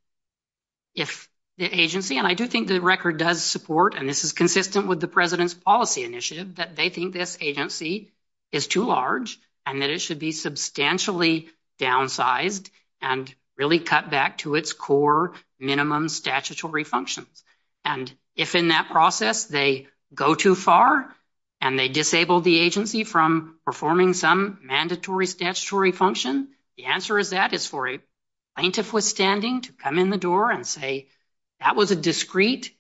if the agency... And I do think the record does support, and this is consistent with the president's policy initiative, that they think this agency is too large and that it should be substantially downsized and really cut back to its core minimum statutory functions. And if in that process they go too far and they disable the agency from performing some mandatory statutory function, the answer is that it's for a plaintiff withstanding to come in the door and say, that was a discreet,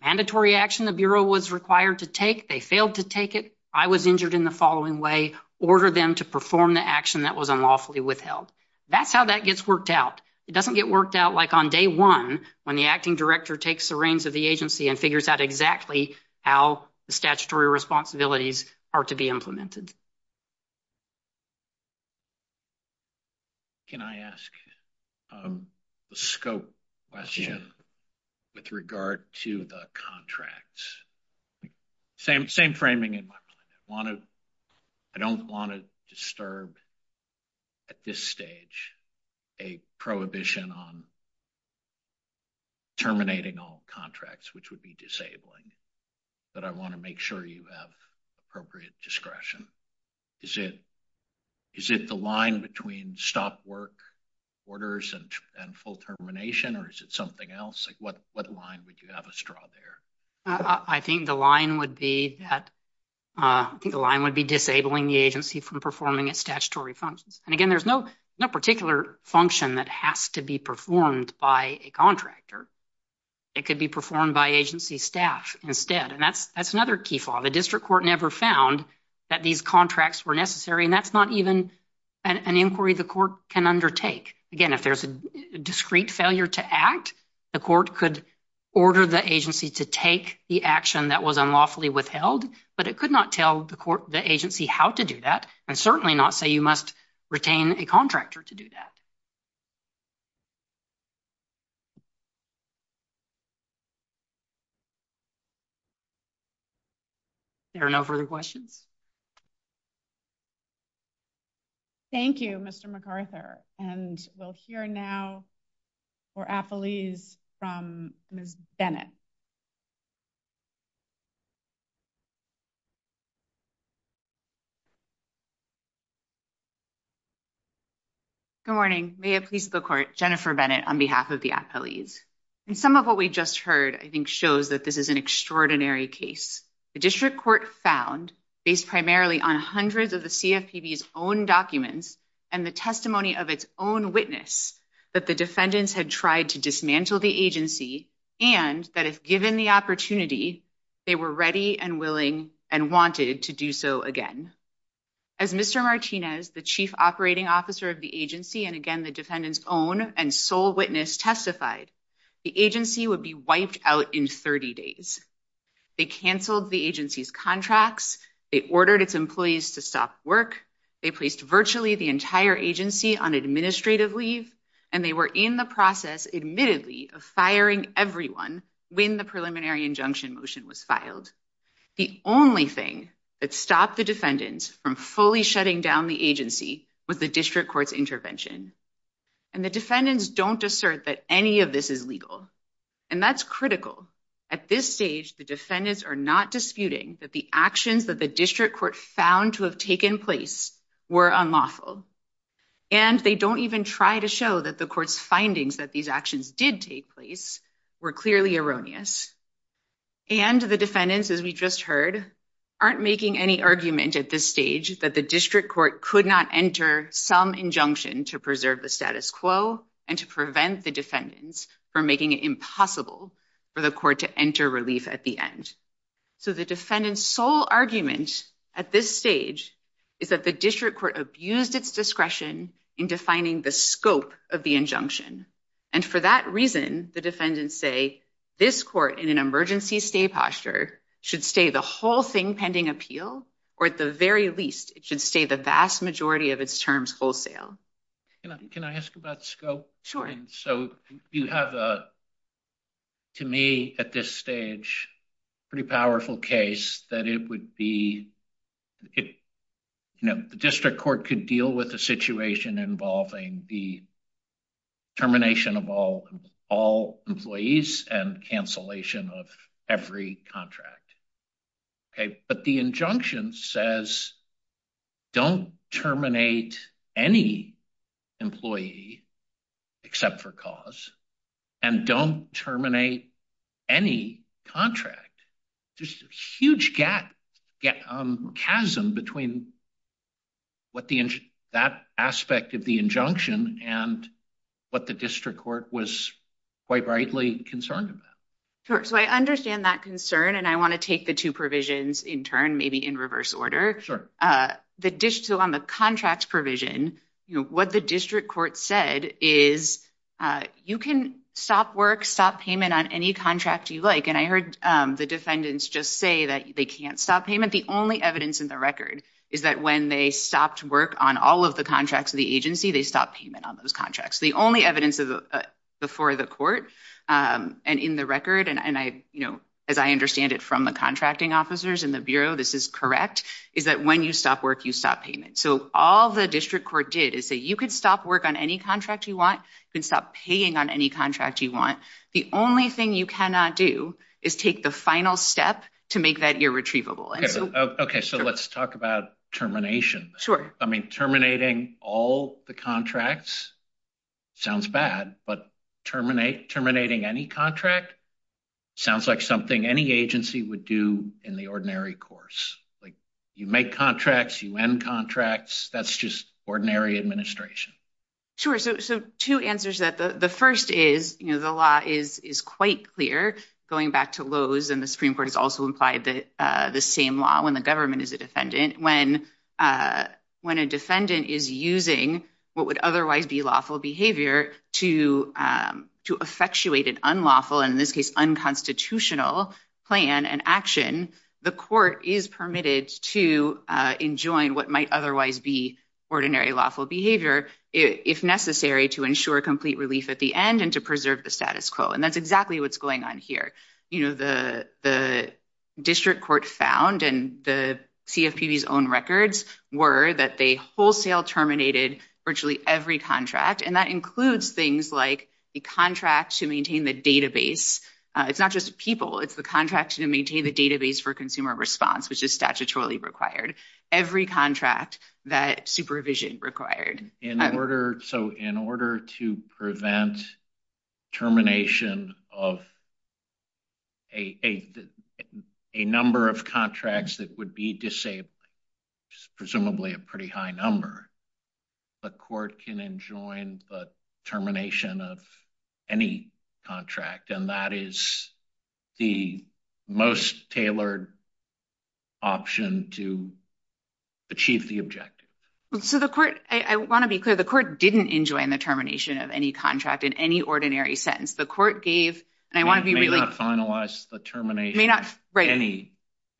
mandatory action the bureau was required to take. They failed to take it. I was injured in the following way. Order them to perform the action that was unlawfully withheld. That's how that gets worked out. It doesn't get worked out like on day one, when the acting director takes the reins of the agency and figures out exactly how the statutory responsibilities are to be implemented. Can I ask a scope question with regard to the contracts? Same framing in my plan. I don't want to disturb at this stage a prohibition on terminating all contracts, which would be disabling, but I want to make sure you have appropriate discretion. Is it the line between stop work orders and full termination, or is it something else? What line would you have us draw there? I think the line would be that the line would be disabling the agency from performing its statutory functions. And again, there's no particular function that has to be performed by a contractor. It could be performed by agency staff instead. And that's another key flaw. The district court never found that these contracts were necessary. And that's not even an inquiry the court can undertake. Again, if there's a discreet failure to act, the court could order the agency to take the action that was unlawfully withheld. But it could not tell the agency how to do that, and certainly not say you must retain a contractor to do that. There are no further questions? Thank you, Mr. MacArthur. And we'll hear now for affilees from Ms. Bennett. Good morning. May it please the court, Jennifer Bennett on behalf of the affilees. And some of what we just heard, I think, shows that this is an extraordinary case. The district court found, based primarily on hundreds of the CFPB's own documents and the testimony of its own witness, that the defendants had tried to dismantle the agency, and that if given the opportunity, they were ready and willing and wanted to do so again. As Mr. Martinez, the chief operating officer of the agency, and again, the defendant's own and sole witness testified, the agency would be wiped out in 30 days. They canceled the agency's contracts. They ordered its employees to stop work. They placed virtually the entire agency on administrative leave. And they were in the process, admittedly, of firing everyone when the preliminary injunction motion was filed. The only thing that stopped the defendants from fully shutting down the agency was the district court's intervention. And the defendants don't assert that any of this is legal. And that's critical. At this stage, the defendants are not disputing that the actions that the district court found to have taken place were unlawful. And they don't even try to show that the court's findings that these actions did take place were clearly erroneous. And the defendants, as we just heard, aren't making any argument at this stage that the district court could not enter some injunction to preserve the status quo and to prevent the defendants from making it impossible for the court to enter relief at the end. So the defendant's sole argument at this stage is that the district court abused its discretion in defining the scope of the injunction. And for that reason, the defendants say this court in an emergency stay posture should stay the whole thing pending appeal, or at the very least, it should stay the vast majority of its terms wholesale. Can I ask about scope? Sure. So you have, to me, at this stage, a pretty powerful case that it would be, you know, the district court could deal with a situation involving the termination of all employees and cancellation of every contract. Okay, but the injunction says don't terminate any employee except for cause and don't terminate any contract. Just a huge gap, chasm between what the, that aspect of the injunction and what the district court was quite rightly concerned about. Sure. So I understand that concern, and I want to take the two provisions in turn, maybe in reverse order. Sure. The digital on the contract provision, you know, what the district court said is you can stop work, stop payment on any contract you like. And I heard the defendants just say that they can't stop payment. The only evidence in the record is that when they stopped work on all of the contracts of the agency, they stopped payment on those contracts. The only evidence before the court and in the record, and I, you know, as I understand it from the contracting officers in the Bureau, this is correct, is that when you stop work, you stop payment. So all the district court did is say you can stop work on any contract you want. You can stop paying on any contract you want. The only thing you cannot do is take the final step to make that irretrievable. Okay, so let's talk about termination. Sure. I mean, terminating all the contracts sounds bad, but terminating any contract sounds like something any agency would do in the ordinary course. Like, you make contracts, you end contracts. That's just ordinary administration. Sure. So two answers that the first is, you know, the law is quite clear going back to Lowe's and the Supreme Court has also implied the same law when the government is a defendant. When a defendant is using what would otherwise be lawful behavior to effectuate an unlawful, in this case, unconstitutional plan and action, the court is permitted to enjoin what might otherwise be ordinary lawful behavior if necessary to ensure complete relief at the end and to preserve the status quo. And that's exactly what's going on here. You know, the district court found and the CFPB's own records were that they wholesale terminated virtually every contract. And that includes things like the contract to maintain the database. It's not just people. It's the contract to maintain the database for consumer response, which is statutorily required. Every contract that supervision required. So in order to prevent termination of a number of contracts that would be disabled, presumably a pretty high number, the court can enjoin the termination of any contract. And that is the most tailored option to achieve the objective. So the court, I want to be clear, the court didn't enjoin the termination of any contract in any ordinary sentence. The court gave and I want to finalize the termination of any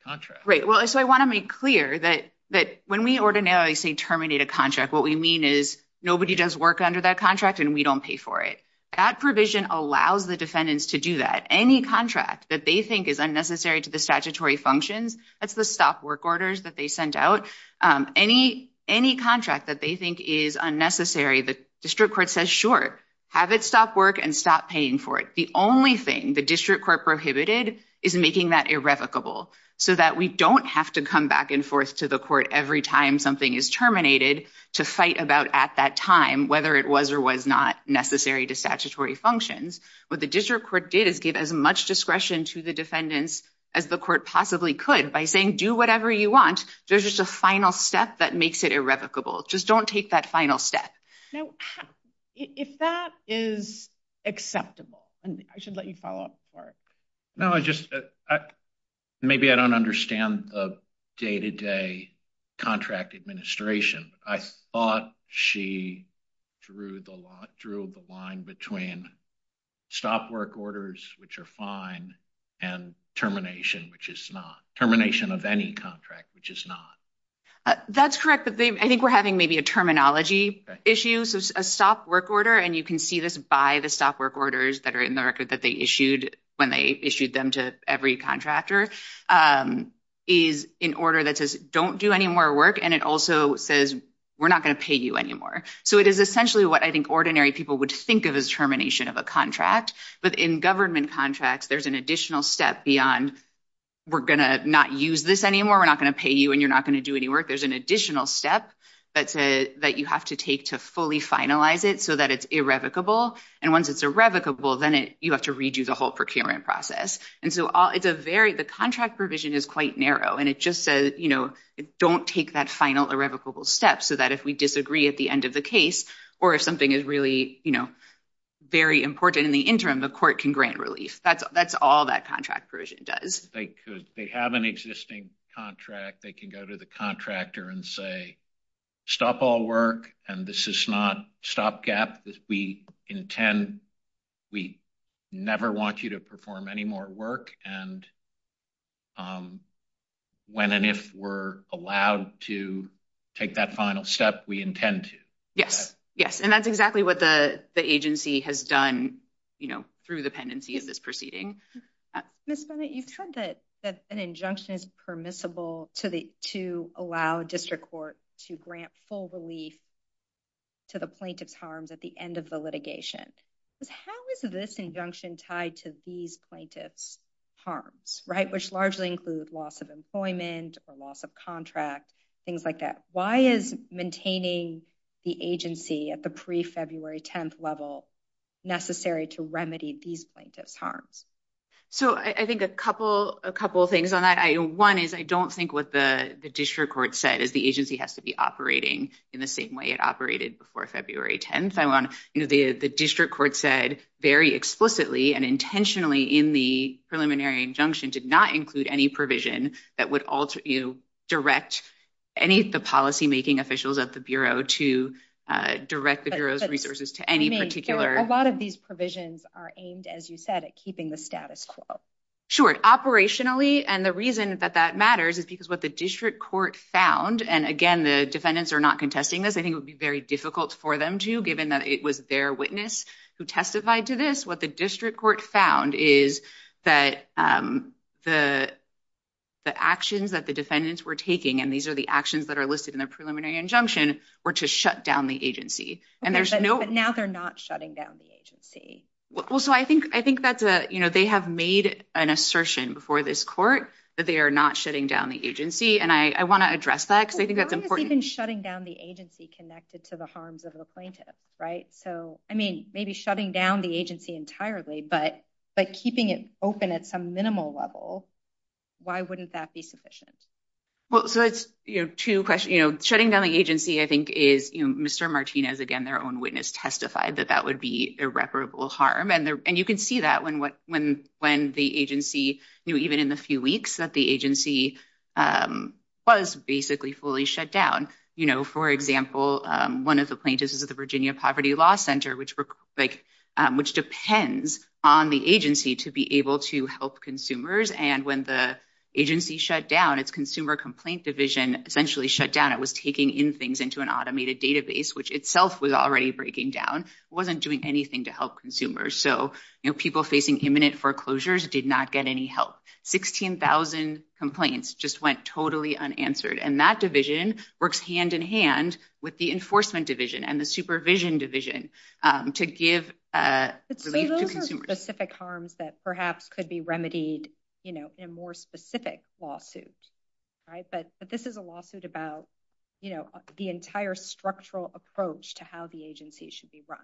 contract. Right. Well, so I want to make clear that when we ordinarily say terminate a contract, what we mean is nobody does work under that contract and we don't pay for it. That provision allows the defendants to do that. Any contract that they think is unnecessary to the statutory functions, that's the stop work orders that they sent out. Any contract that they think is unnecessary, the district court says, sure, have it stop work and stop paying for it. The only thing the district court prohibited is making that irrevocable so that we don't have to come back and forth to the court every time something is terminated to fight about at that time, whether it was or was not necessary to statutory functions. What the district court did is give as much discretion to the defendants as the court possibly could by saying, do whatever you want. There's just a final step that makes it irrevocable. Just don't take that final step. Now, if that is acceptable, and I should let you follow up, sorry. No, I just, maybe I don't understand the day to day contract administration. I thought she drew the line between stop work orders, which are fine, and termination, which is not. Termination of any contract, which is not. That's correct, but I think we're having maybe a terminology issue. So a stop work order, and you can see this by the stop work orders that are in the record that they issued when they issued them to every contractor, is an order that says don't do any more work, and it also says we're not going to pay you anymore. So it is essentially what I think ordinary people would think of as termination of a But in government contracts, there's an additional step beyond we're going to not use this anymore. We're not going to pay you, and you're not going to do any work. There's an additional step that you have to take to fully finalize it so that it's irrevocable. And once it's irrevocable, then you have to redo the whole procurement process. And so the contract provision is quite narrow, and it just says don't take that final irrevocable step so that if we disagree at the end of the case, or if something is really very important in the interim, the court can grant relief. That's all that contract provision does. If they have an existing contract, they can go to the contractor and say stop all work, and this is not stopgap. We intend, we never want you to perform any more work, and when and if we're allowed to take that final step, we intend to. Yes, yes, and that's exactly what the agency has done, you know, through the pendency of this proceeding. Ms. Bennett, you've said that an injunction is permissible to allow district court to grant full relief to the plaintiff's harms at the end of the litigation. But how is this injunction tied to these plaintiff's harms, right, which largely include loss of employment or loss of contract, things like that? Why is maintaining the agency at the pre-February 10th level necessary to remedy these plaintiff's harms? So, I think a couple things on that. One is I don't think what the district court said is the agency has to be operating in the same way it operated before February 10th. I want, you know, the district court said very explicitly and intentionally in the preliminary injunction did not include any provision that would direct any of the policymaking officials at the Bureau to direct the Bureau's resources to any particular- A lot of these provisions are aimed, as you said, at keeping the status quo. Sure, operationally, and the reason that that matters is because what the district court found, and again, the defendants are not contesting this. I think it would be very difficult for them to, given that it was their witness who testified to this, what the district court found is that the actions that the defendants were taking, and these are the actions that are listed in the preliminary injunction, were to shut down the agency. And there's no- But now they're not shutting down the agency. Well, so I think that's a, you know, they have made an assertion before this court that they are not shutting down the agency, and I want to address that because I think that's important- Well, how is even shutting down the agency connected to the harms of the plaintiff, right? So, I mean, maybe shutting down the agency entirely, but keeping it open at some minimal level, why wouldn't that be sufficient? Well, so that's, you know, two questions. You know, shutting down the agency, I think, is, you know, Mr. Martinez, again, their own witness testified that that would be irreparable harm, and you can see that when the agency, you know, even in the few weeks that the agency was basically fully shut down. You know, for example, one of the plaintiffs is at the Virginia Poverty Law Center, which depends on the agency to be able to help consumers, and when the agency shut down, its consumer complaint division essentially shut down. It was taking in things into an automated database, which itself was already breaking down, wasn't doing anything to help consumers. So, you know, people facing imminent foreclosures did not get any help. Sixteen thousand complaints just went totally unanswered, and that division works hand-in-hand with the enforcement division and the supervision division to give relief to consumers. But those are specific harms that perhaps could be remedied, you know, in more specific lawsuits, right? But this is a lawsuit about, you know, the entire structural approach to how the agency should be run.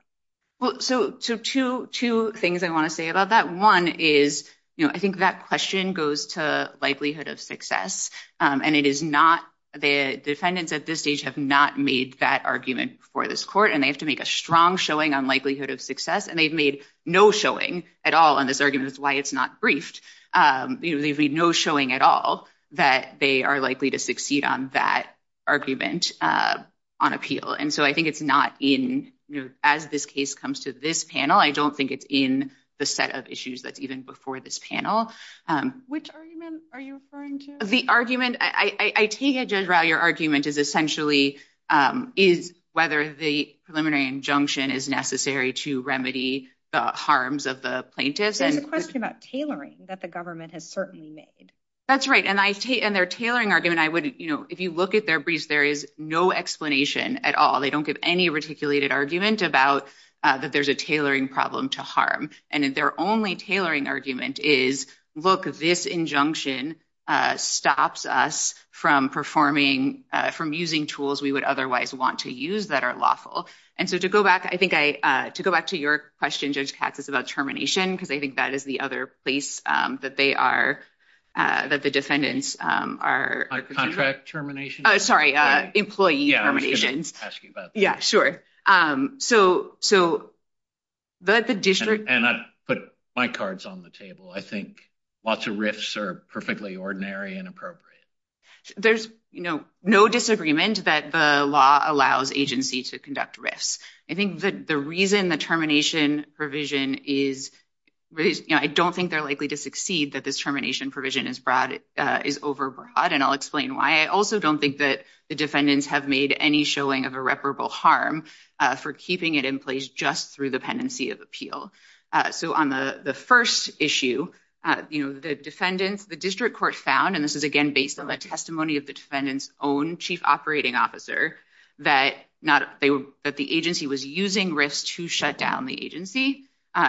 Well, so two things I want to say about that. One is, you know, I think that question goes to likelihood of success. And it is not—the defendants at this stage have not made that argument before this court, and they have to make a strong showing on likelihood of success. And they've made no showing at all on this argument, which is why it's not briefed. You know, they've made no showing at all that they are likely to succeed on that argument on appeal. And so I think it's not in—you know, as this case comes to this panel, I don't think it's in the set of issues that's even before this panel. Which argument are you referring to? The argument—I see, Judge Rao, your argument is essentially is whether the preliminary injunction is necessary to remedy the harms of the plaintiffs. And the question about tailoring that the government has certainly made. That's right. And I—and their tailoring argument, I wouldn't—you know, if you look at their briefs, there is no explanation at all. They don't give any reticulated argument about that there's a tailoring problem to And their only tailoring argument is, look, this injunction stops us from performing—from using tools we would otherwise want to use that are lawful. And so to go back, I think I—to go back to your question, Judge Katz, about termination, because I think that is the other place that they are—that the defendants are— Contract termination? Sorry, employee terminations. Ask you about that. Yeah, sure. So—so the district— And I put my cards on the table. I think lots of risks are perfectly ordinary and appropriate. There's, you know, no disagreement that the law allows agencies to conduct risks. I think that the reason the termination provision is—I don't think they're likely to succeed that this termination provision is broad—is overbroad, and I'll explain why. I also don't think that the defendants have made any showing of irreparable harm for keeping it in place just through the pendency of appeal. So on the first issue, you know, the defendants—the district court found, and this is, again, based on the testimony of the defendant's own chief operating officer, that not—that the agency was using risk to shut down the agency.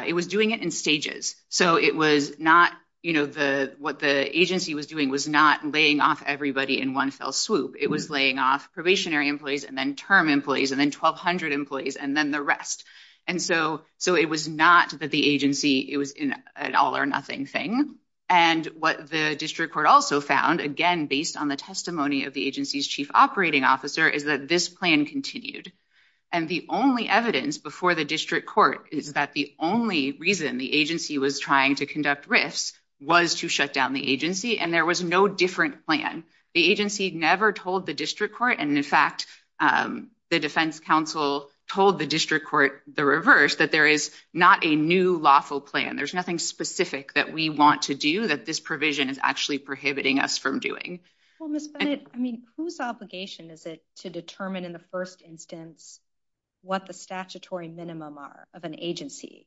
It was doing it in stages. So it was not, you know, the—what the agency was doing was not laying off everybody in one fell swoop. It was laying off probationary employees, and then term employees, and then 1,200 employees, and then the rest. And so—so it was not that the agency—it was an all-or-nothing thing. And what the district court also found, again, based on the testimony of the agency's chief operating officer, is that this plan continued. And the only evidence before the district court is that the only reason the agency was trying to conduct risk was to shut down the agency, and there was no different plan. The agency never told the district court, and in fact, the defense counsel told the district court the reverse, that there is not a new lawful plan. There's nothing specific that we want to do that this provision is actually prohibiting us from doing. Well, Ms. Bennett, I mean, whose obligation is it to determine in the first instance what the statutory minimum are of an agency?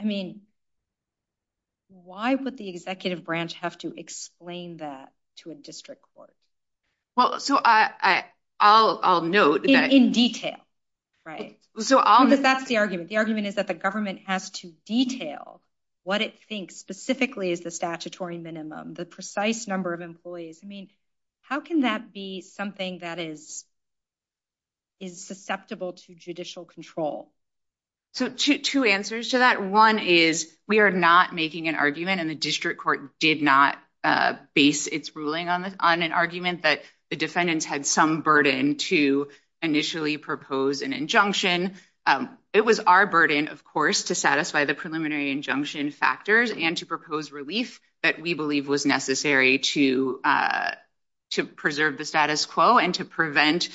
I mean, why would the executive branch have to explain that to a district court? Well, so I'll note that— In detail, right? That's the argument. The argument is that the government has to detail what it thinks specifically is the I mean, how can that be something that is susceptible to judicial control? So two answers to that. One is we are not making an argument, and the district court did not base its ruling on an argument that the defendants had some burden to initially propose an injunction. It was our burden, of course, to satisfy the preliminary injunction factors and to propose relief that we believe was necessary to preserve the status quo and to prevent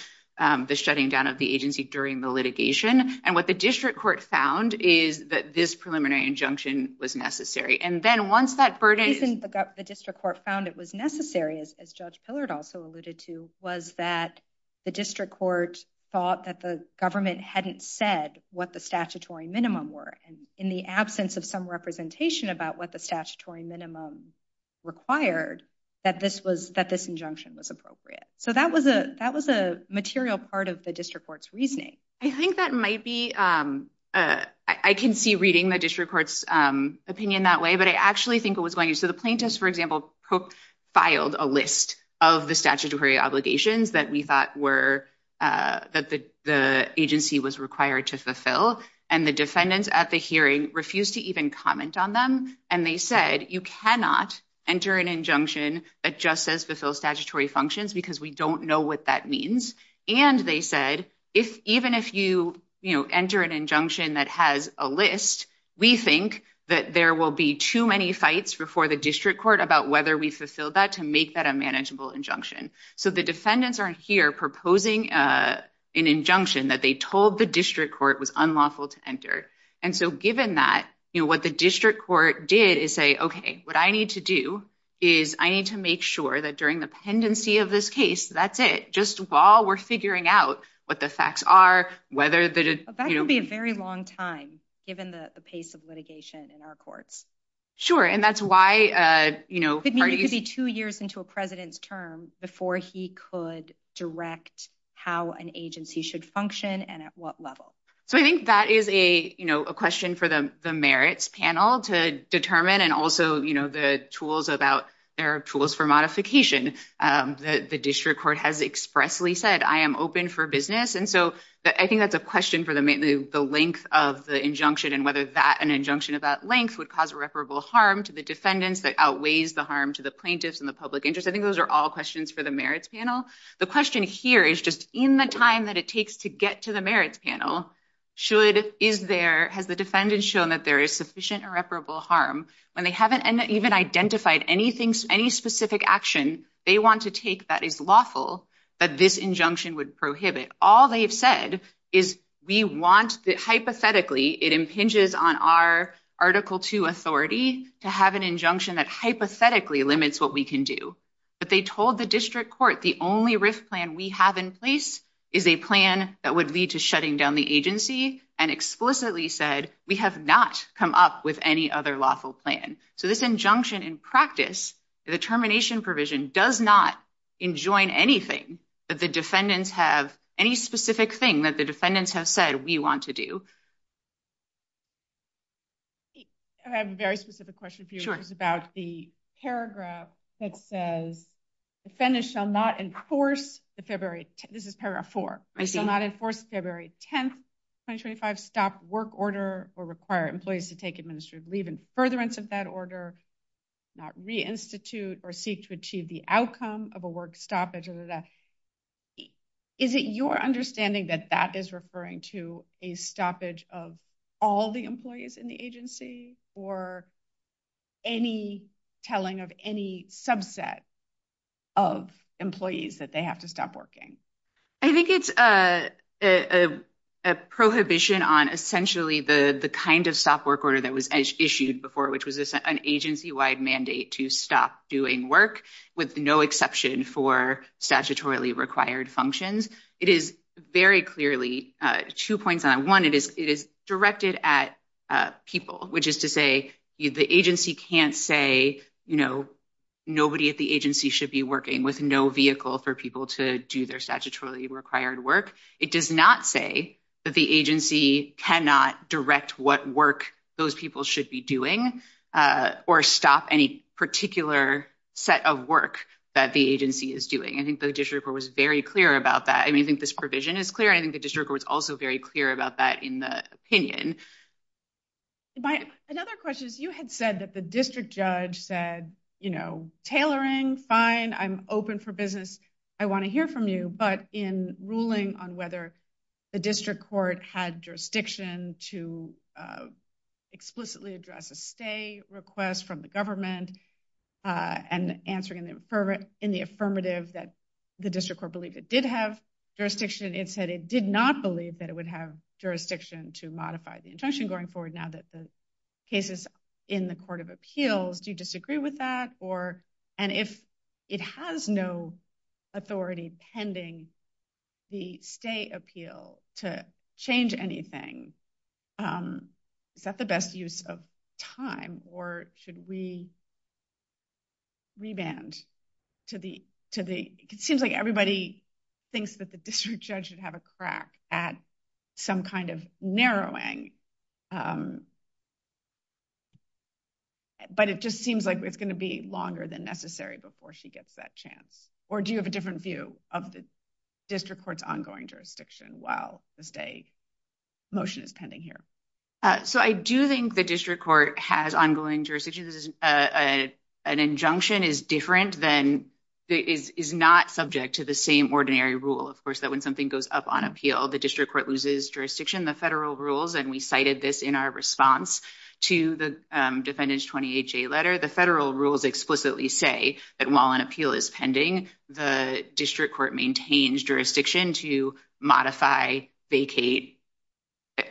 the shutting down of the agency during the litigation. And what the district court found is that this preliminary injunction was necessary. And then once that burden— Even the district court found it was necessary, as Judge Pillard also alluded to, was that the district court thought that the government hadn't said what the statutory minimum were. In the absence of some representation about what the statutory minimum required, that this injunction was appropriate. So that was a material part of the district court's reasoning. I think that might be— I can see reading the district court's opinion that way, but I actually think it was— So the plaintiffs, for example, filed a list of the statutory obligations that we thought that the agency was required to fulfill. And the defendants at the hearing refused to even comment on them. And they said, you cannot enter an injunction that just says fulfill statutory functions because we don't know what that means. And they said, even if you enter an injunction that has a list, we think that there will be too many fights before the district court about whether we fulfilled that to make that a manageable injunction. So the defendants are here proposing an injunction that they told the district court was unlawful to enter. And so given that, what the district court did is say, OK, what I need to do is I need to make sure that during the pendency of this case, that's it. Just while we're figuring out what the facts are, whether the— That could be a very long time, given the pace of litigation in our courts. Sure, and that's why— It needs to be two years into a president's term before he could direct how an agency should function and at what level. So I think that is a question for the merits panel to determine and also the tools about— there are tools for modification. The district court has expressly said, I am open for business. And so I think that's a question for the length of the injunction and whether an injunction of that length would cause irreparable harm to the defendants that outweighs the harm to the plaintiffs and the public interest. I think those are all questions for the merits panel. The question here is just, in the time that it takes to get to the merits panel, should—is there—has the defendant shown that there is sufficient irreparable harm when they haven't even identified anything, any specific action they want to take that is lawful that this injunction would prohibit? All they've said is, we want—hypothetically, it impinges on our Article II authority to have an injunction that hypothetically limits what we can do. But they told the district court the only risk plan we have in place is a plan that would lead to shutting down the agency and explicitly said, we have not come up with any other lawful plan. So this injunction in practice, the termination provision, does not enjoin anything that the defendant has said we want to do. I have a very specific question for you. It's about the paragraph that says, the defendant shall not enforce the February—this is paragraph 4—shall not enforce the February 10, 2025 stop work order or require employees to take administrative leave in furtherance of that order, not reinstitute or seek to achieve the outcome of a work stop, etc. Is it your understanding that that is referring to a stoppage of all the employees in the agency or any telling of any subset of employees that they have to stop working? I think it's a prohibition on essentially the kind of stop work order that was issued before, which was an agency-wide mandate to stop doing work with no exception for statutorily required functions. It is very clearly—two points on that. One, it is directed at people, which is to say the agency can't say, you know, nobody at the agency should be working with no vehicle for people to do their statutorily required work. It does not say that the agency cannot direct what work those people should be doing or stop any particular set of work that the agency is doing. I think the district was very clear about that. I mean, I think this provision is clear, and I think the district was also very clear about that in the opinion. Another question is, you had said that the district judge said, you know, tailoring, fine, I'm open for business. I want to hear from you, but in ruling on whether the district court had jurisdiction to explicitly address a stay request from the government and answering in the affirmative that the district court believed it did have jurisdiction, it said it did not believe that it would have jurisdiction to modify the injunction going forward now that the case is in the court of appeals. Do you disagree with that? And if it has no authority pending the stay appeal to change anything, is that the best use of time, or should we revamp to the – it seems like everybody thinks that the district judge should have a crack at some kind of narrowing. But it just seems like it's going to be longer than necessary before she gets that chance. Or do you have a different view of the district court's ongoing jurisdiction while the stay motion is pending here? So, I do think the district court has ongoing jurisdiction. An injunction is different than – is not subject to the same ordinary rule, of course, that when something goes up on appeal, the district court loses jurisdiction, the federal rules, and we cited this in our response to the defendant's 28-J letter. The federal rules explicitly say that while an appeal is pending, the district court maintains jurisdiction to modify, vacate,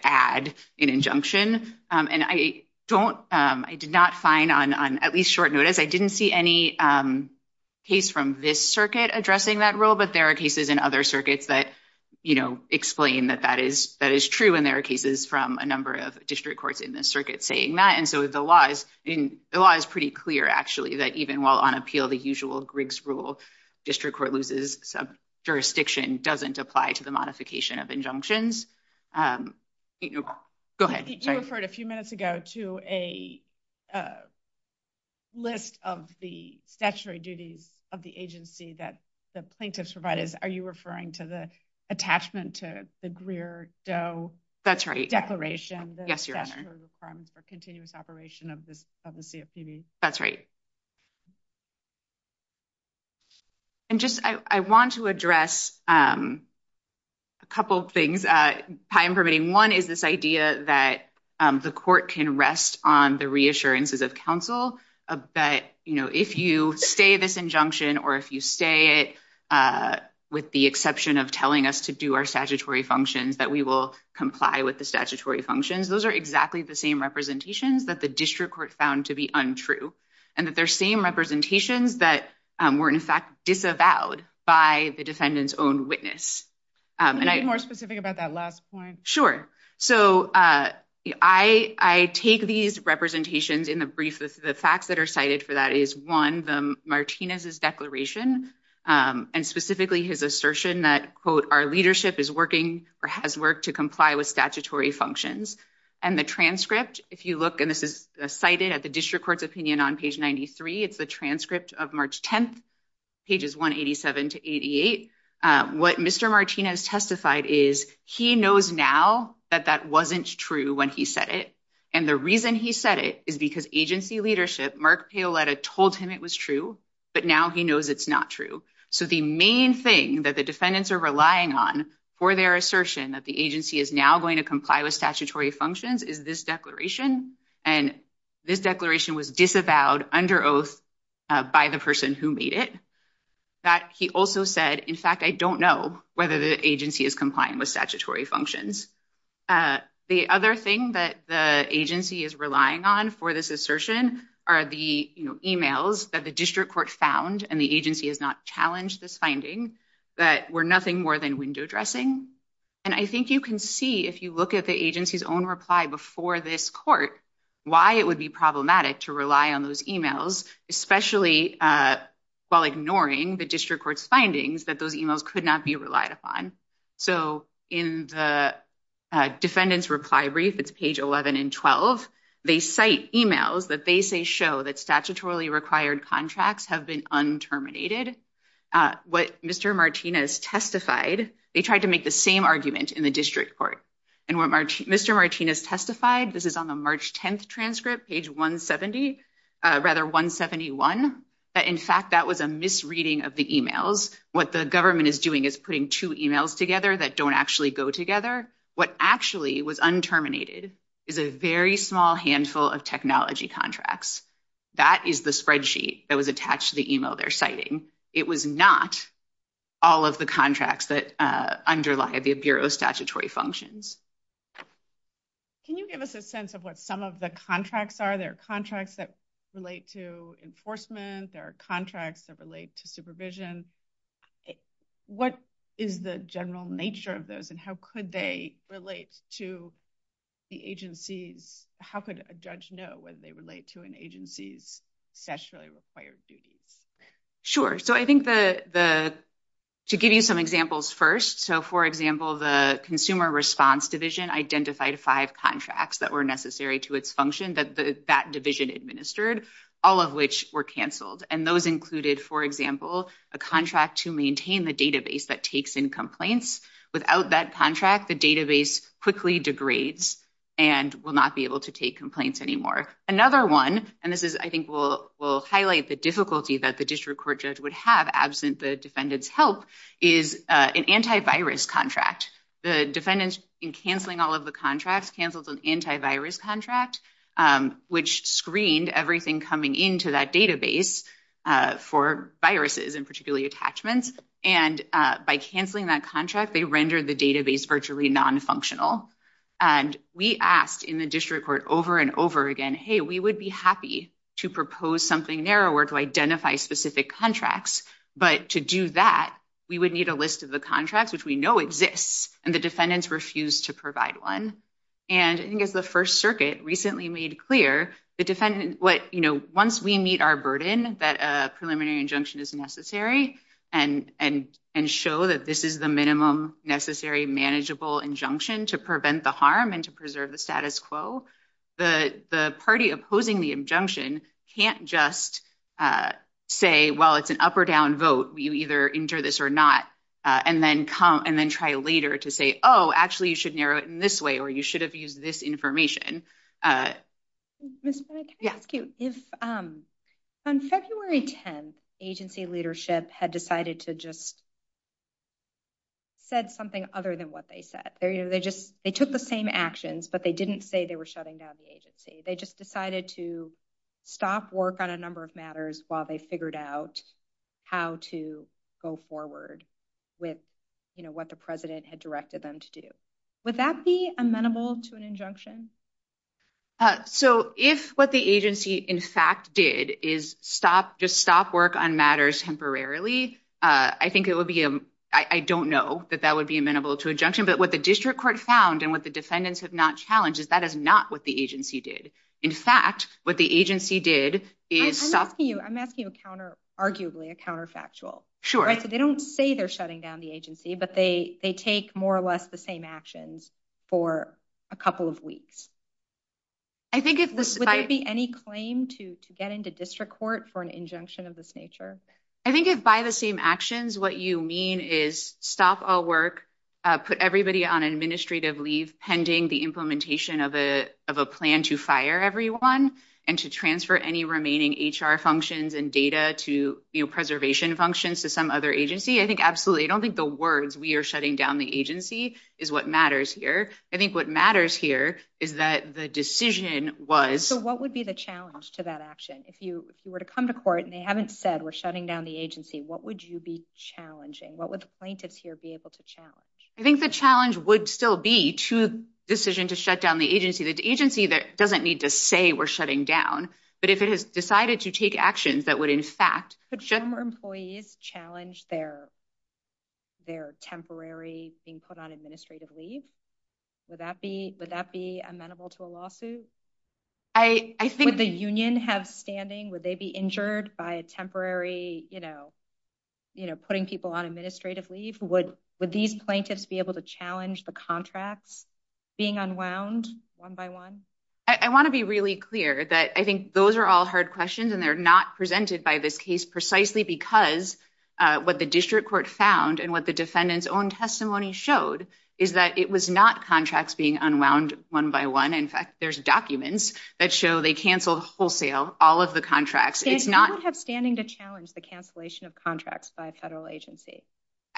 add an injunction. And I don't – I did not find on at least short notice, I didn't see any case from this circuit addressing that rule, but there are cases in other circuits that explain that that is true, and there are cases from a number of district courts in this circuit saying that, and so the law is pretty clear, actually, that even while on appeal, the usual Griggs rule, district court loses jurisdiction, doesn't apply to the modification of injunctions. Go ahead. You referred a few minutes ago to a list of the statutory duties of the agency that the plaintiff's provided. Are you referring to the attachment to the Greer-Do declaration? Yes, Your Honor. The statutory requirement for continuous operation of the CFPB. That's right. And just – I want to address a couple of things. Time permitting, one is this idea that the court can rest on the reassurances of counsel that if you say this injunction, or if you say it with the exception of telling us to do our statutory functions, that we will comply with the statutory functions. Those are exactly the same representations that the district court found to be untrue, and that they're same representations that were in fact disavowed by the defendant's own witness. Can you be more specific about that last point? Sure. So, I take these representations in the brief. The facts that are cited for that is, one, the Martinez's declaration, and specifically his assertion that, quote, our leadership is working or has worked to comply with statutory functions. And the transcript, if you look, and this is cited at the district court's opinion on page 93, it's the transcript of March 10th, pages 187 to 88. What Mr. Martinez testified is he knows now that that wasn't true when he said it, and the reason he said it is because agency leadership, Mark Paoletta, told him it was true, but now he knows it's not true. So, the main thing that the defendants are relying on for their assertion that the agency is now going to comply with statutory functions is this declaration, and this declaration was disavowed under oath by the person who made it. That he also said, in fact, I don't know whether the agency is complying with statutory functions. The other thing that the agency is relying on for this assertion are the emails that the district court found, and the agency has not challenged this finding, that were nothing more than window dressing. And I think you can see, if you look at the agency's own reply before this court, why it would be problematic to rely on those emails, especially while ignoring the district court's findings that those emails could not be relied upon. So, in the defendant's reply brief, it's page 11 and 12, they cite emails that they say show that statutorily required contracts have been unterminated. What Mr. Martinez testified, they tried to make the same argument in the district court, and what Mr. Martinez testified, this is on the March 10th transcript, page 170, rather 171, that, in fact, that was a misreading of the emails. What the government is doing is putting two emails together that don't actually go together. What actually was unterminated is a very small handful of technology contracts. That is the spreadsheet that was attached to the email they're citing. It was not all of the contracts that underlie the bureau's statutory functions. Can you give us a sense of what some of the contracts are? There are contracts that relate to enforcement. There are contracts that relate to supervision. What is the general nature of those, and how could they relate to the agency? How could a judge know when they relate to an agency's statutorily required duties? Sure. I think to give you some examples first, so, for example, the consumer response division identified five contracts that were necessary to its function that that division administered, all of which were canceled. Those included, for example, a contract to maintain the database that takes in complaints. Without that contract, the database quickly degrades and will not be able to take complaints anymore. Another one, and this, I think, will highlight the difficulty that the district court judge would have absent the defendant's help, is an antivirus contract. The defendant, in canceling all of the contracts, canceled an antivirus contract, which screened everything coming into that database for viruses, and particularly attachments. By canceling that contract, they rendered the database virtually nonfunctional. We asked in the district court over and over again, hey, we would be happy to propose something narrower to identify specific contracts, but to do that, we would need a list of the contracts, which we know exists, and the defendants refused to provide one. I think it's the First Circuit recently made clear, once we meet our burden that a preliminary injunction is necessary and show that this is the minimum necessary manageable injunction to prevent the harm and to preserve the status quo, the party opposing the injunction can't just say, well, it's an up or down vote. You either enter this or not, and then try later to say, oh, actually, you should narrow it in this way, or you should have used this information. GONZALES-DAYLOR. Ms. Bennett, can I ask you, if on February 10th, agency leadership had decided to just say something other than what they said, they took the same actions, but they didn't say they were shutting down the agency. They just decided to stop work on a number of matters while they figured out how to go forward with, you know, what the president had directed them to do. Would that be amenable to an injunction? So, if what the agency, in fact, did is just stop work on matters temporarily, I think I don't know that that would be amenable to injunction. But what the district court found and what the defendants have not challenged is that is not what the agency did. In fact, what the agency did is- I'm asking you counter, arguably, a counterfactual. Sure. They don't say they're shutting down the agency, but they take more or less the same actions for a couple of weeks. Would there be any claim to get into district court for an injunction of this nature? I think if by the same actions, what you mean is stop all work, put everybody on administrative leave pending the implementation of a plan to fire everyone and to transfer any remaining HR functions and data to, you know, preservation functions to some other agency. I think absolutely. I don't think the words, we are shutting down the agency, is what matters here. I think what matters here is that the decision was- So, what would be the challenge to that action? If you were to come to court and they haven't said we're shutting down the agency, what would you be challenging? What would plaintiffs here be able to challenge? I think the challenge would still be to the decision to shut down the agency. The agency doesn't need to say we're shutting down, but if it has decided to take actions that would in fact- Could general employees challenge their temporary being put on administrative leave? Would that be amenable to a lawsuit? I think- Would the union have standing? Would they be injured by a temporary, you know, putting people on administrative leave? Would these plaintiffs be able to challenge the contracts being unwound one by one? I want to be really clear that I think those are all hard questions and they're not presented by this case precisely because what the district court found and what the defendant's own testimony showed is that it was not contracts being unwound one by one. In fact, there's documents that show they canceled wholesale all of the contracts. It is not- Do we have standing to challenge the cancellation of contracts by a federal agency?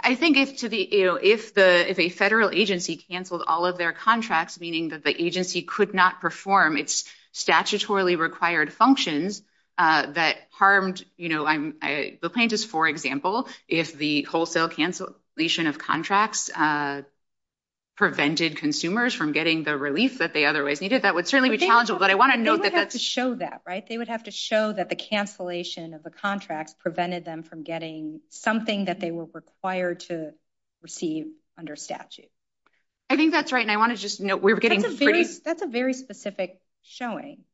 I think if a federal agency canceled all of their contracts, meaning that the agency could not perform its statutorily required functions that harmed, you know, the plaintiffs, for example, if the wholesale cancellation of contracts prevented consumers from getting the release that they otherwise needed, that would certainly be challengeable. But I want to know that- They would have to show that, right? They would have to show that the cancellation of the contract prevented them from getting something that they were required to receive under statute. I think that's right. And I want to just note we're getting- That's a very specific showing.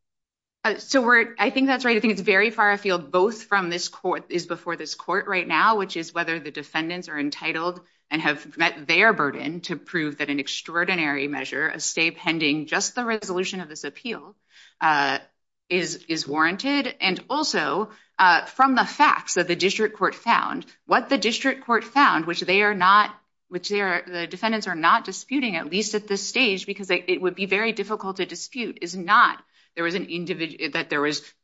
So we're- I think that's right. I think it's very far afield both from this court, is before this court right now, which is whether the defendants are entitled and have met their burden to prove that an extraordinary measure, a stay pending just the resolution of this appeal, is warranted. And also, from the facts that the district court found, what the district court found, which they are not- which the defendants are not disputing, at least at this stage, because it would be very difficult to dispute, is not that there was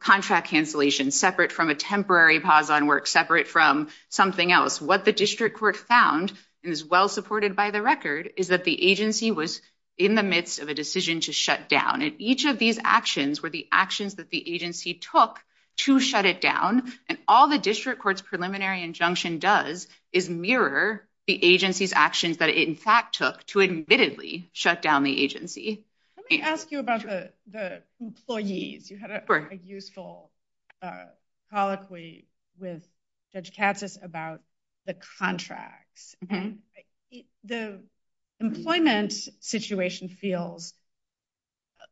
contract cancellation separate from a temporary pause on work, separate from something else. What the district court found, and is well supported by the record, is that the agency was in the midst of a decision to shut down. And each of these actions were the actions that the agency took to shut it down. And all the district court's preliminary injunction does is mirror the agency's actions that it in fact took to admittedly shut down the agency. Let me ask you about the employees. You had a useful colloquy with Judge Katsas about the contracts. The employment situation feels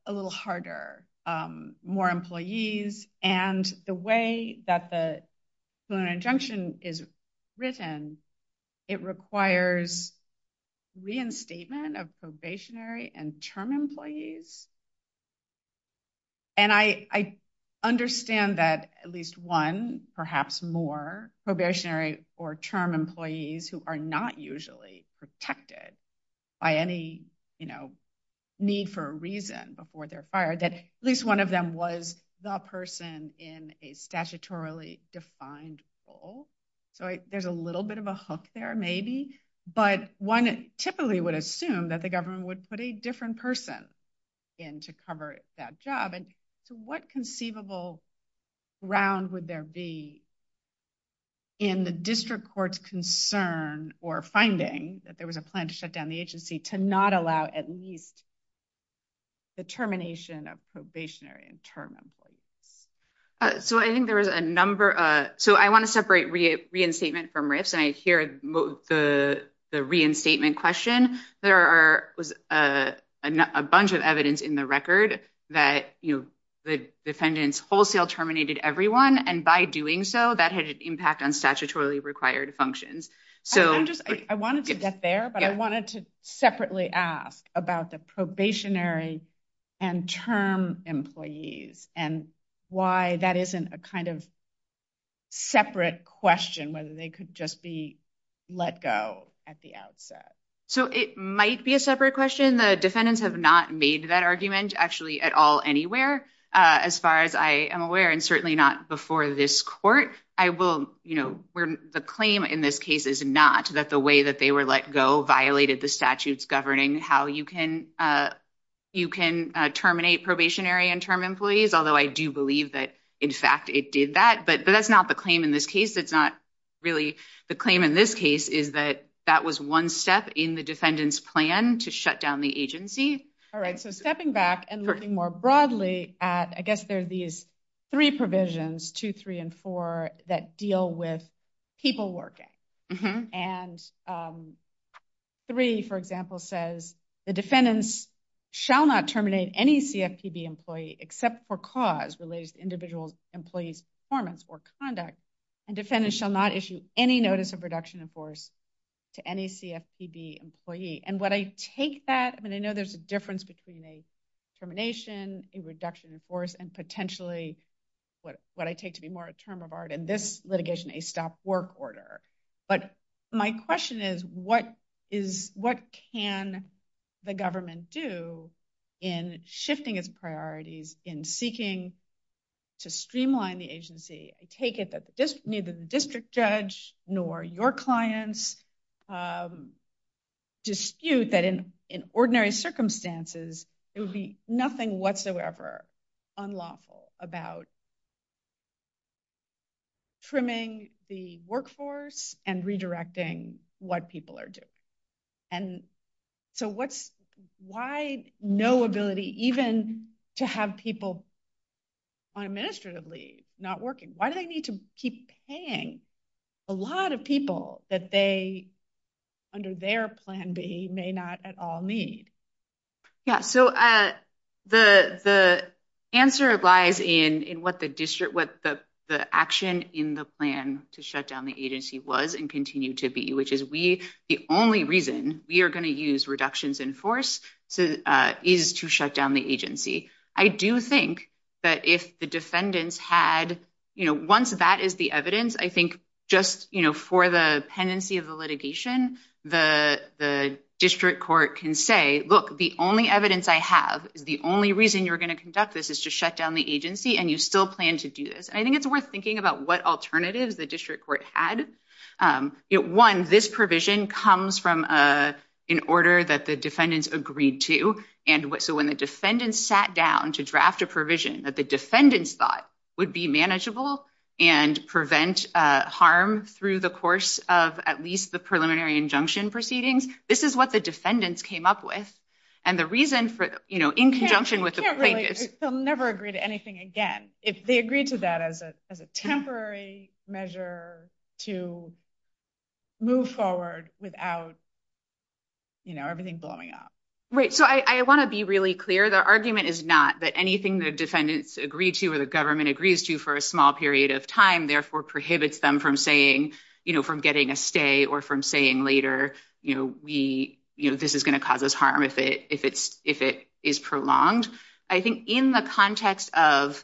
a little harder. More employees and the way that the preliminary injunction is written, it requires reinstatement of probationary and term employees. And I understand that at least one, perhaps more, probationary or term employees who are not usually protected by any need for a reason before they're fired, that at least one of them was the person in a statutorily defined role. So there's a little bit of a hook there, maybe, but one typically would assume that the government would put a different person in to cover that job. And so what conceivable ground would there be in the district court's concern or finding that there was a plan to shut down the agency to not allow at least the termination of probationary and term employees? So I think there was a number. So I want to separate reinstatement from risk, and I hear the reinstatement question. There was a bunch of evidence in the record that the defendants wholesale terminated everyone, and by doing so, that had an impact on statutorily required functions. I wanted to get there, but I wanted to separately ask about the probationary and term employees and why that isn't a kind of separate question, whether they could just be let go at the outset. So it might be a separate question. The defendants have not made that argument, actually, at all anywhere, as far as I am aware, and certainly not before this court. The claim in this case is not that the way that they were let go violated the statutes governing how you can terminate probationary and term employees, although I do believe that, in fact, it did that. But that's not the claim in this case. It's not really the claim in this case is that that was one step in the defendant's plan to shut down the agency. All right. So stepping back and looking more broadly, I guess there are these three provisions, two, three, and four, that deal with people working. And three, for example, says the defendants shall not terminate any CFPB employee except for cause related to individual employee's performance or conduct, and defendants shall not issue any notice of reduction in force to any CFPB employee. And what I take that, and I know there's a difference between a termination, a reduction in force, and potentially what I take to be more a term of art in this litigation, a stop work order. But my question is, what can the government do in shifting its priorities in seeking to streamline the agency? I take it that neither the district judge nor your clients dispute that in ordinary circumstances, it would be nothing whatsoever unlawful about trimming the workforce and redirecting what people are doing. And so why no ability even to have people unadministratively not working? Why do they need to keep paying a lot of people that they, under their plan B, may not at all need? Yeah. So the answer lies in what the action in the plan to shut down the agency was and continue to be, which is we, the only reason we are going to use reductions in force is to shut down the agency. I do think that if the defendants had, once that is the evidence, I think just for the pendency of the litigation, the district court can say, look, the only evidence I have, the only reason you're going to conduct this is to shut down the agency and you still plan to do this. And I think it's worth thinking about what alternatives the district court had. One, this provision comes from an order that the defendants agreed to. And so when the defendants sat down to draft a provision that the defendants thought would be manageable and prevent harm through the course of at least the preliminary injunction proceedings, this is what the defendants came up with. And the reason for, in conjunction with the plaintiff- They'll never agree to anything again. If they agree to that as a temporary measure to move forward without everything blowing up. Right. So I want to be really clear. The argument is not that anything the defendants agree to or the government agrees to for a small period of time, therefore prohibits them from saying, you know, from getting a stay or from saying later, you know, we, you know, this is going to cause us harm if it is prolonged. I think in the context of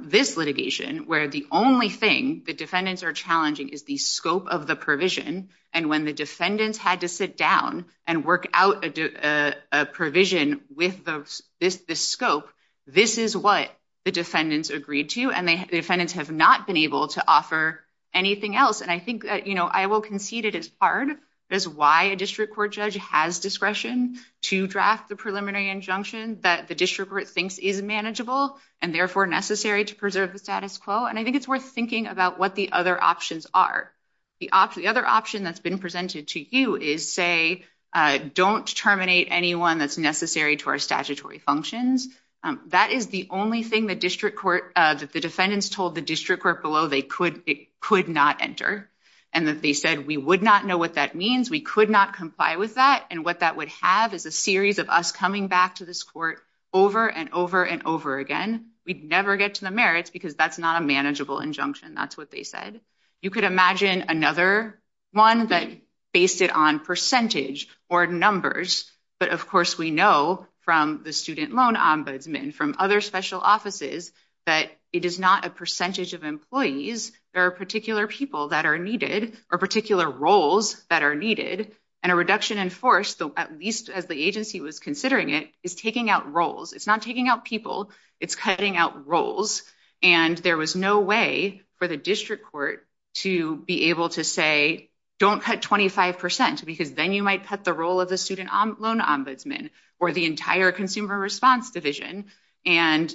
this litigation, where the only thing the defendants are challenging is the scope of the provision. And when the defendants had to sit down and work out a provision with the scope, this is what the defendants agreed to. And the defendants have not been able to offer anything else. And I think, you know, I will concede it as hard as why a district court judge has discretion to draft the preliminary injunction that the district court thinks is manageable and therefore necessary to preserve the status quo. And I think it's worth thinking about what the other options are. The other option that's been presented to you is, say, don't terminate anyone that's necessary to our statutory functions. That is the only thing that the defendants told the district court below they could not enter. And that they said, we would not know what that means. We could not comply with that. And what that would have is a series of us coming back to this court over and over and over again. We'd never get to the merits because that's not a manageable injunction. That's what they said. You could imagine another one that based it on percentage or numbers. But, of course, we know from the student loan ombudsman, from other special offices, that it is not a percentage of employees. There are particular people that are needed or particular roles that are needed. And a reduction in force, at least as the agency was considering it, is taking out roles. It's not taking out people. It's cutting out roles. And there was no way for the district court to be able to say, don't cut 25%, because then you might cut the role of the student loan ombudsman or the entire consumer response division. And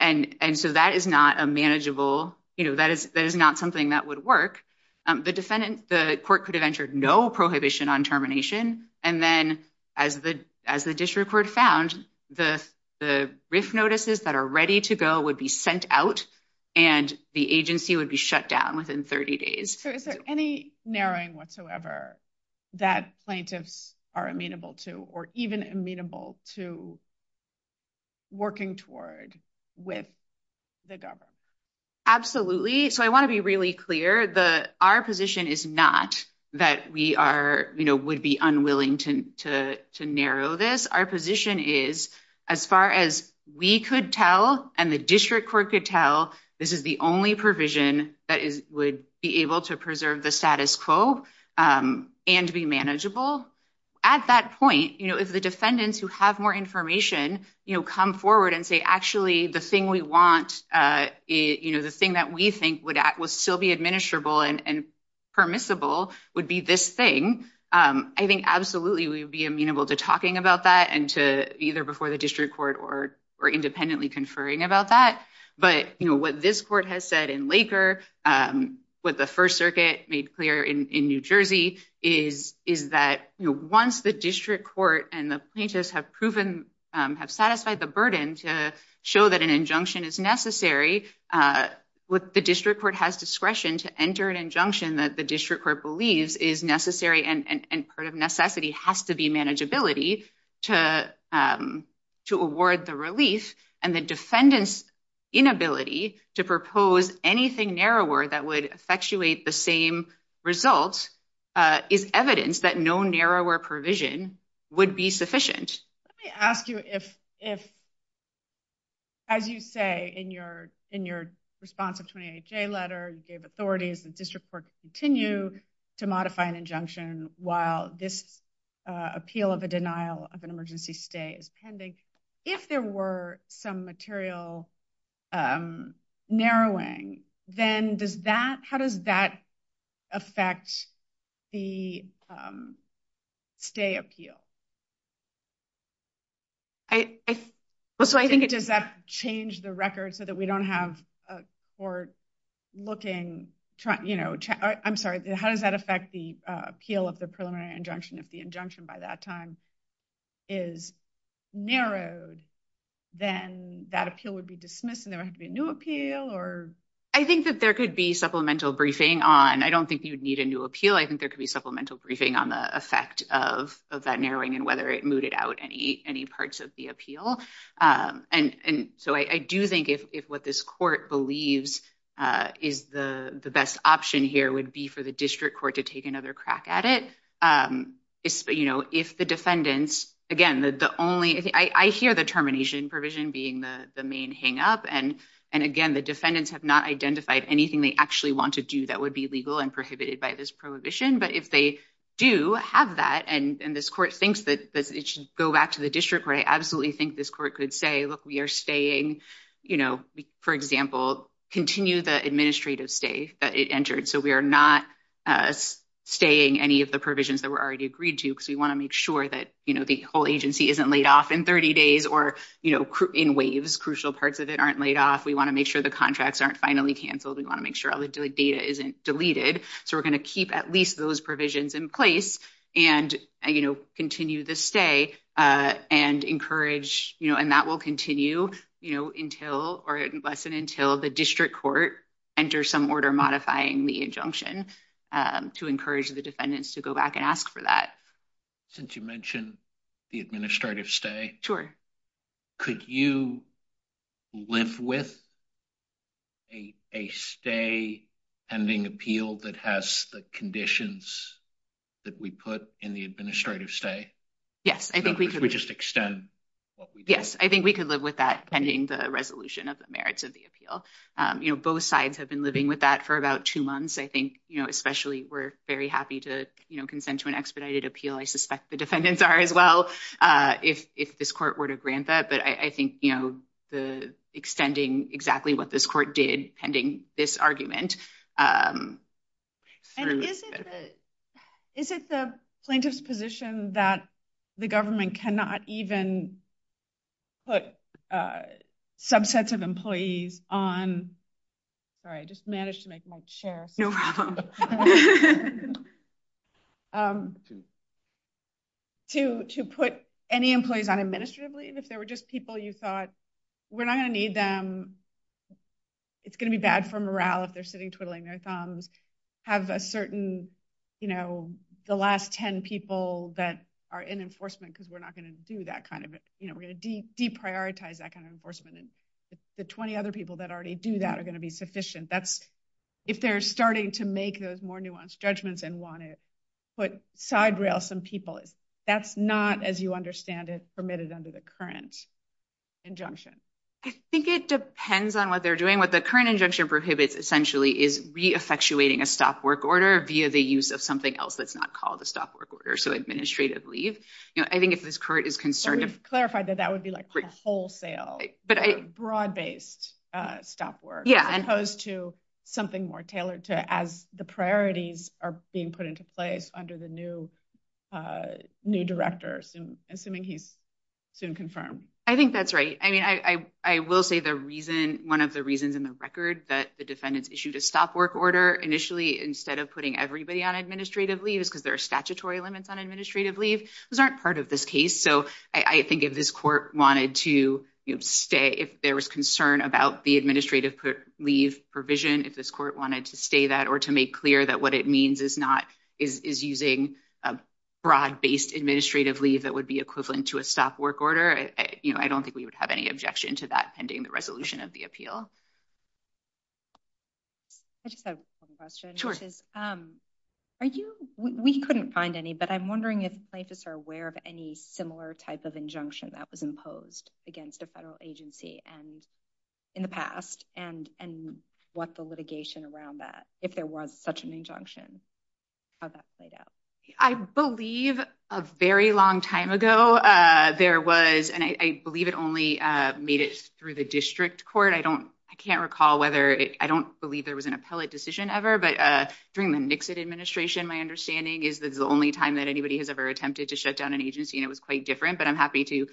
so that is not a manageable, that is not something that would work. The defendant, the court could have entered no prohibition on termination. And then as the district court found, the brief notices that are ready to go would be sent out and the agency would be shut down within 30 days. So is there any narrowing whatsoever that plaintiffs are amenable to or even amenable to working toward with the government? Absolutely. So I want to be really clear. Our position is not that we would be unwilling to narrow this. Our position is, as far as we could tell and the district court could tell, this is the only provision that would be able to preserve the status quo and be manageable. At that point, if the defendants who have more information come forward and say, actually, the thing we want, the thing that we think would still be administrable and permissible would be this thing, I think absolutely we would be amenable to talking about that and to either before the district court or independently conferring about that. But what this court has said in Laker, what the First Circuit made clear in New Jersey is that once the district court and the plaintiffs have proven, have satisfied the burden to show that an injunction is necessary, the district court has discretion to enter an injunction that the district court believes is necessary and part of necessity has to be manageability to award the release. And the defendant's inability to propose anything narrower that would effectuate the same results is evidence that no narrower provision would be sufficient. Let me ask you if, as you say in your response to the 28-J letter, you gave authorities and district court to continue to modify an injunction while this appeal of a denial of an emergency stay is pending. If there were some material narrowing, then does that, how does that effect the stay appeal? Does that change the record so that we don't have a court looking, I'm sorry, how does that effect the appeal of the preliminary injunction if the injunction by that time is narrowed, then that appeal would be dismissed and there would have to be a new appeal? I think that there could be supplemental briefing on, I don't think you would need a new appeal, I think there could be supplemental briefing on the effect of that narrowing and whether it mooted out any parts of the appeal. So I do think if what this court believes is the best option here would be for the district court to take another crack at it, if the defendants, again, the only, I hear the termination provision being the main hangup, and again, the defendants have not identified anything they actually want to do that would be legal and prohibited by this prohibition, but if they do have that and this court thinks that it should go back to the district court, I absolutely think this court could say, look, we are staying, for example, continue the administrative stay that it entered, so we are not staying any of the provisions that were already agreed to because we want to make sure that the whole agency isn't laid off in 30 days or in waves, crucial parts of it aren't laid off, we want to make sure the contracts aren't finally canceled, we want to make sure all the data isn't deleted, so we are going to keep at least those provisions in place and continue the stay and encourage, you know, and that will continue, you know, until or less than until the district court enters some order modifying the injunction to encourage the defendants to go back and ask for that. Since you mentioned the administrative stay. Could you live with a stay pending appeal that has the conditions that we put in the administrative stay? Yes. I think we could just extend. Yes, I think we could live with that pending the resolution of the merits of the appeal. You know, both sides have been living with that for about two months. I think, you know, especially we're very happy to, you know, consent to an expedited appeal. I suspect the defendants are as well. If this court were to grant that, but I think, you know, the extending exactly what this court did pending this argument. Is it the plaintiff's position that the government cannot even put subsets of employees on? Sorry, I just managed to make my chair. To put any employees on administrative leave, if they were just people you thought we're not going to need them, it's going to be bad for morale if they're sitting twiddling their thumbs, have a certain, you know, the last ten people that are in enforcement because we're not going to do that kind of, you know, we're going to deprioritize that kind of And the 20 other people that already do that are going to be sufficient. That's if they're starting to make those more nuanced judgments and want it, but side rail some people. That's not, as you understand it, permitted under the current injunction. I think it depends on what they're doing. What the current injunction prohibits essentially is reaffectuating a stop work order via the use of something else that's not called a stop work order. So administrative leave. You know, I think if this court is concerned. And we've clarified that that would be like a wholesale, broad based stop work. Yeah. As opposed to something more tailored to as the priorities are being put into place under the new director, assuming he's soon confirmed. I think that's right. I mean, I will say the reason one of the reasons in the record that the defendants issued a stop work order initially instead of putting everybody on administrative leave is because there are statutory limits on administrative leave. Those aren't part of this case. So I think if this court wanted to stay if there was concern about the administrative leave provision if this court wanted to stay that or to make clear that what it means is using a broad based administrative leave that would be equivalent to a stop work order. I don't think we would have any objection to that pending the resolution of the appeal. We couldn't find any, but I'm wondering if places are aware of any similar types of injunction that was imposed against the federal agency in the past and what the litigation around that if there was such an injunction. That played out. I believe a very long time ago there was and I believe it only made it through the district court. I don't I can't recall whether I don't believe there was an appellate decision ever. But during the Nixon administration, my understanding is the only time that anybody has ever attempted to shut down an agency. And it was quite different, but I'm happy to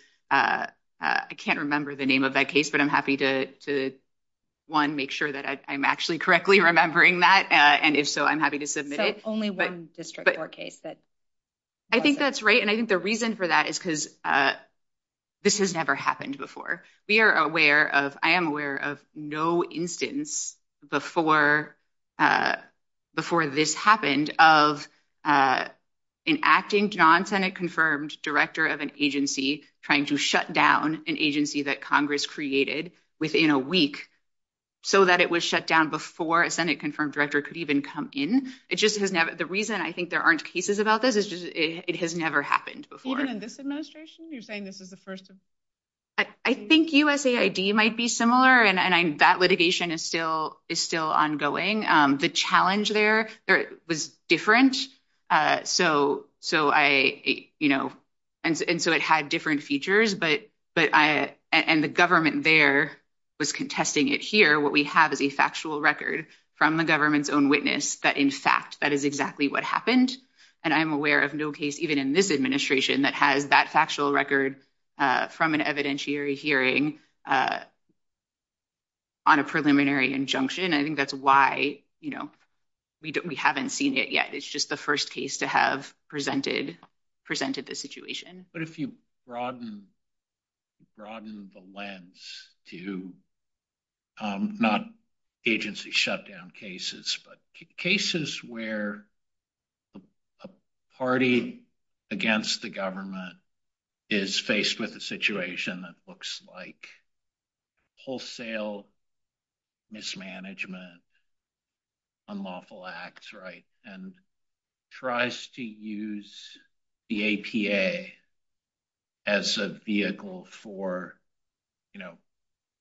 I can't remember the name of that case, but I'm happy to one, make sure that I'm actually correctly remembering that. And if so, I'm happy to submit it. But I think that's right. And I think the reason for that is because this has never happened before. We are aware of I am aware of no instance before before this happened of enacting non Senate confirmed director of an agency trying to shut down an agency that Congress created within a week. So that it was shut down before a Senate confirmed director could even come in. The reason I think there aren't cases about this is it has never happened before. Even in this administration, you're saying this is the first. I think USAID might be similar. And that litigation is still is still ongoing. The challenge there was different. So so I, you know, and so it had different features. But but I and the government there was contesting it here. What we have is a factual record from the government's own witness. That, in fact, that is exactly what happened. And I'm aware of no case, even in this administration that has that factual record from an evidentiary hearing on a preliminary injunction. I think that's why, you know, we haven't seen it yet. It's just the first case to have presented presented the situation. But if you broaden the lens to not agency shutdown cases, but cases where a party against the government is faced with a situation that looks like wholesale mismanagement, unlawful acts, right? Tries to use the APA as a vehicle for, you know,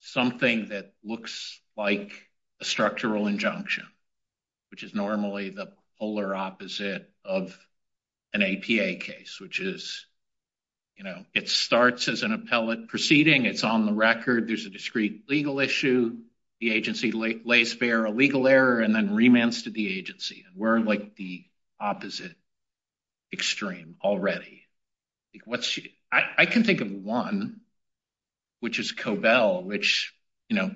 something that looks like a structural injunction, which is normally the polar opposite of an APA case, which is, you know, it starts as an appellate proceeding. It's on the record. There's a discrete legal issue. The agency lays bare a legal error and then remands to the agency. We're like the opposite extreme already. I can think of one, which is Cobell, which, you know,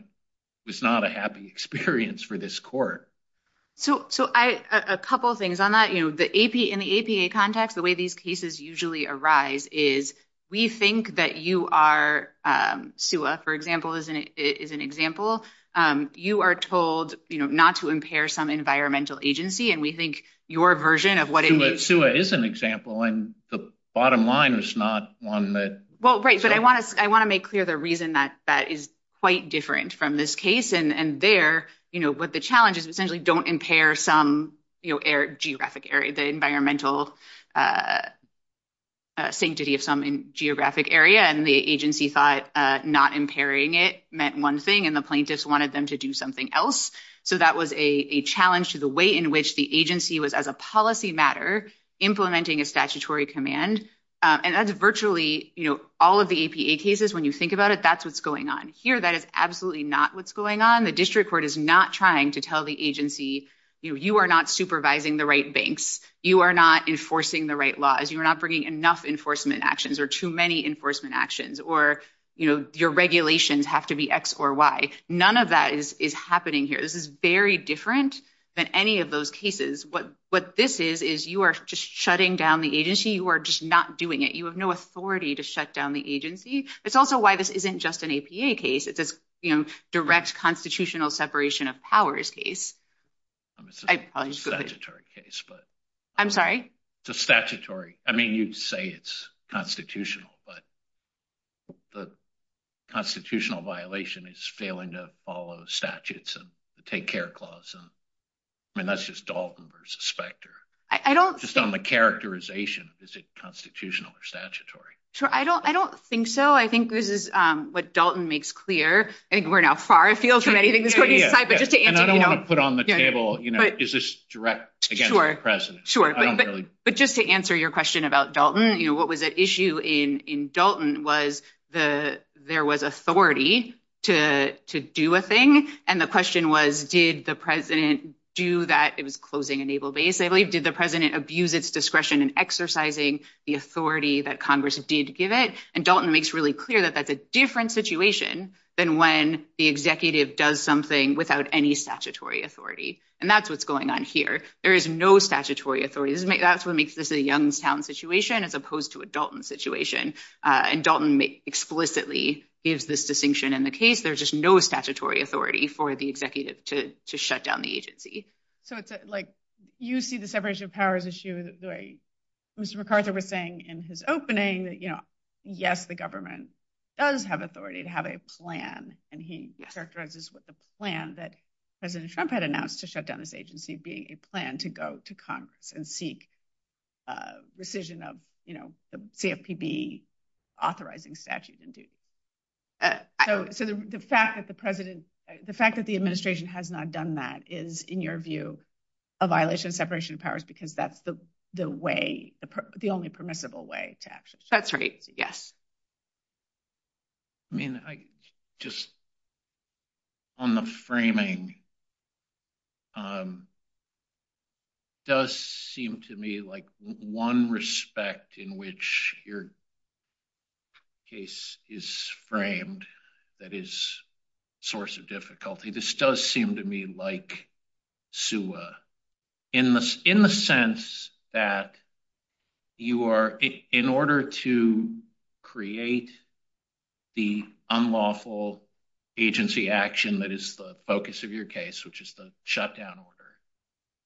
was not a happy experience for this court. So a couple of things on that, you know, in the APA context, the way these cases usually arise is we think that you are, SUA, for example, is an example. You are told, you know, not to impair some environmental agency. And we think your version of what it means- SUA is an example and the bottom line is not on the- Well, right. But I want to make clear the reason that that is quite different from this case. And there, you know, what the challenge is essentially don't impair some, you know, geographic area, the environmental sanctity of some geographic area. The agency thought not impairing it meant one thing, and the plaintiffs wanted them to do something else. So that was a challenge to the way in which the agency was, as a policy matter, implementing a statutory command. And that's virtually, you know, all of the APA cases. When you think about it, that's what's going on here. That is absolutely not what's going on. The district court is not trying to tell the agency, you know, you are not supervising the right banks. You are not enforcing the right laws. You're not bringing enough enforcement actions or too many enforcement actions, or, you know, your regulations have to be X or Y. None of that is happening here. This is very different than any of those cases. What this is, is you are just shutting down the agency. You are just not doing it. You have no authority to shut down the agency. It's also why this isn't just an APA case. It's a, you know, direct constitutional separation of powers case. I'm assuming it's a statutory case, but- I'm sorry? It's a statutory. I mean, you'd say it's constitutional, but the constitutional violation is failing to follow statutes and the Take Care Clause. And that's just Dalton versus Specter. I don't- Just on the characterization, is it constitutional or statutory? Sure, I don't think so. I think this is what Dalton makes clear. And we're now far afield from anything this court has decided, but just to answer, you know- And I don't want to put on the table, you know, is this direct, again, to the president. Sure, but just to answer your question about Dalton, you know, what was at issue in Dalton was there was authority to do a thing. And the question was, did the president do that? It was closing Enable, basically. Did the president abuse its discretion in exercising the authority that Congress has needed to give it? And Dalton makes really clear that that's a different situation than when the executive does something without any statutory authority. And that's what's going on here. There is no statutory authority. That's what makes this a Youngstown situation as opposed to a Dalton situation. And Dalton explicitly gives this distinction in the case. There's just no statutory authority for the executive to shut down the agency. So it's like, you see the separation of powers issue. Mr. McArthur was saying in his opening that, you know, yes, the government does have authority to have a plan. And he characterizes with the plan that President Trump had announced to shut down this agency, being a plan to go to Congress and seek rescission of, you know, the CFPB authorizing statute. So the fact that the president, the fact that the administration has not done that is, in your view, a violation of separation of powers, because that's the way, the only permissible way to access. That's right. Yes. I mean, I just, on the framing, does seem to me like one respect in which your case is framed, that is a source of difficulty. This does seem to me like SUA in the sense that you are, in order to create the unlawful agency action, that is the focus of your case, which is the shutdown order.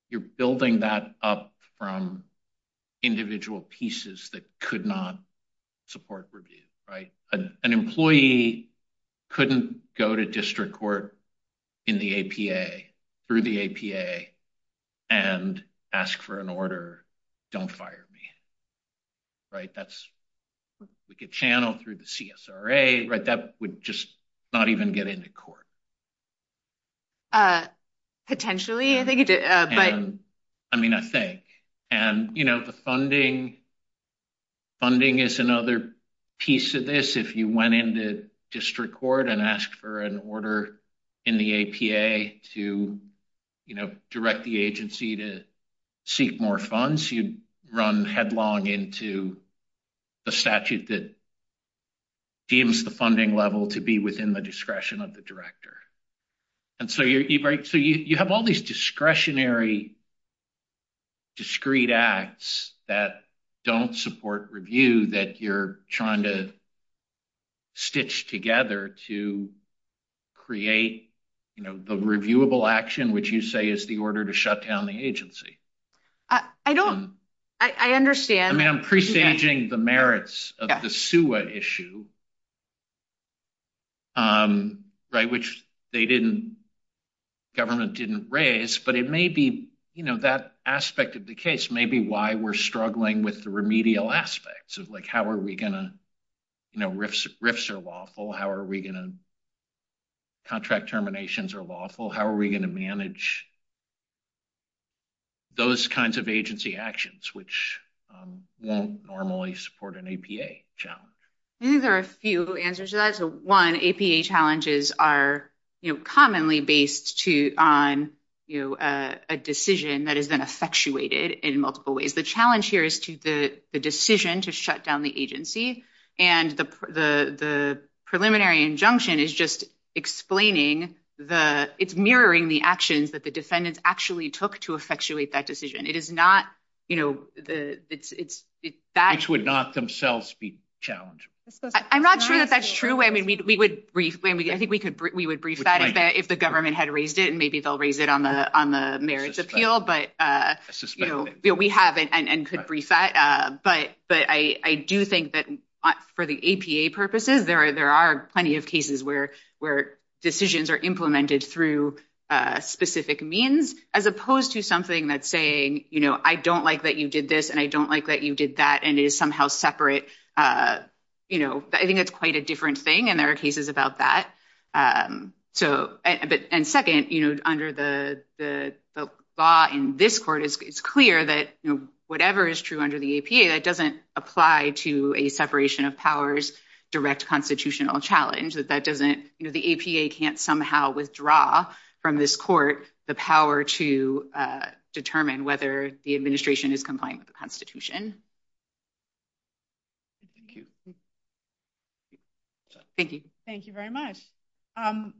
You're building that up from individual pieces that could not support review, right? An employee couldn't go to district court in the APA, through the APA and ask for an order, don't fire me. Right. That's like a channel through the CSRA, right? That would just not even get into court. Potentially, I think, but. I mean, I think, and, you know, the funding, funding is another piece of this. If you went into district court and asked for an order in the APA to, you know, direct the agency to seek more funds, you'd run headlong into the statute that deems the funding level to be within the discretion of the director. And so you have all these discretionary, discreet acts that don't support review, that you're trying to stitch together to create, you know, the reviewable action, which you say is the order to shut down the agency. I don't, I understand. I mean, I'm presaging the merits of the SUA issue. Right, which they didn't, government didn't raise, but it may be, you know, that aspect of the case, maybe why we're struggling with the remedial aspects of like, how are we going to, you know, RIFs are lawful, how are we going to, contract terminations are lawful, how are we going to manage those kinds of agency actions, which won't normally support an APA challenge. I think there are a few answers to that. So one, APA challenges are, you know, commonly based to on, you know, a decision that is then effectuated in multiple ways. The challenge here is to the decision to shut down the agency. And the preliminary injunction is just explaining the, mirroring the actions that the defendants actually took to effectuate that decision. It is not, you know, it's that. Which would not themselves be challenged. I'm not sure if that's true. I mean, we would, I think we could, we would brief that if the government had raised it and maybe they'll raise it on the merits appeal, but we haven't and could brief that. But I do think that for the APA purposes, there are plenty of cases where decisions are implemented through specific means, as opposed to something that's saying, you know, I don't like that you did this and I don't like that you did that. And it is somehow separate. You know, I think that's quite a different thing. And there are cases about that. So, and second, you know, under the law in this court, it's clear that whatever is true under the APA, that doesn't apply to a separation of powers, direct constitutional challenge. That doesn't, you know, the APA can't somehow withdraw from this court, the power to determine whether the administration is complying with the constitution. Thank you. Thank you very much.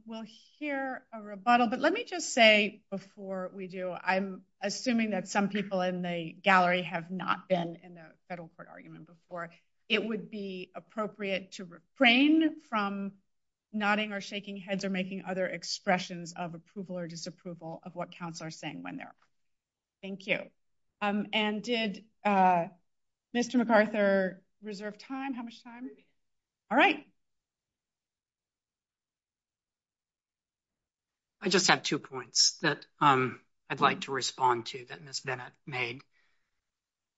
We'll hear a rebuttal, but let me just say before we do, I'm assuming that some people in the gallery have not been in the federal court argument before. It would be appropriate to refrain from nodding or shaking heads or making other expressions of approval or disapproval of what counselors are saying when they're. Thank you. And did Mr. McArthur reserve time? How much time? All right. I just have two points that I'd like to respond to that Ms. Bennett made.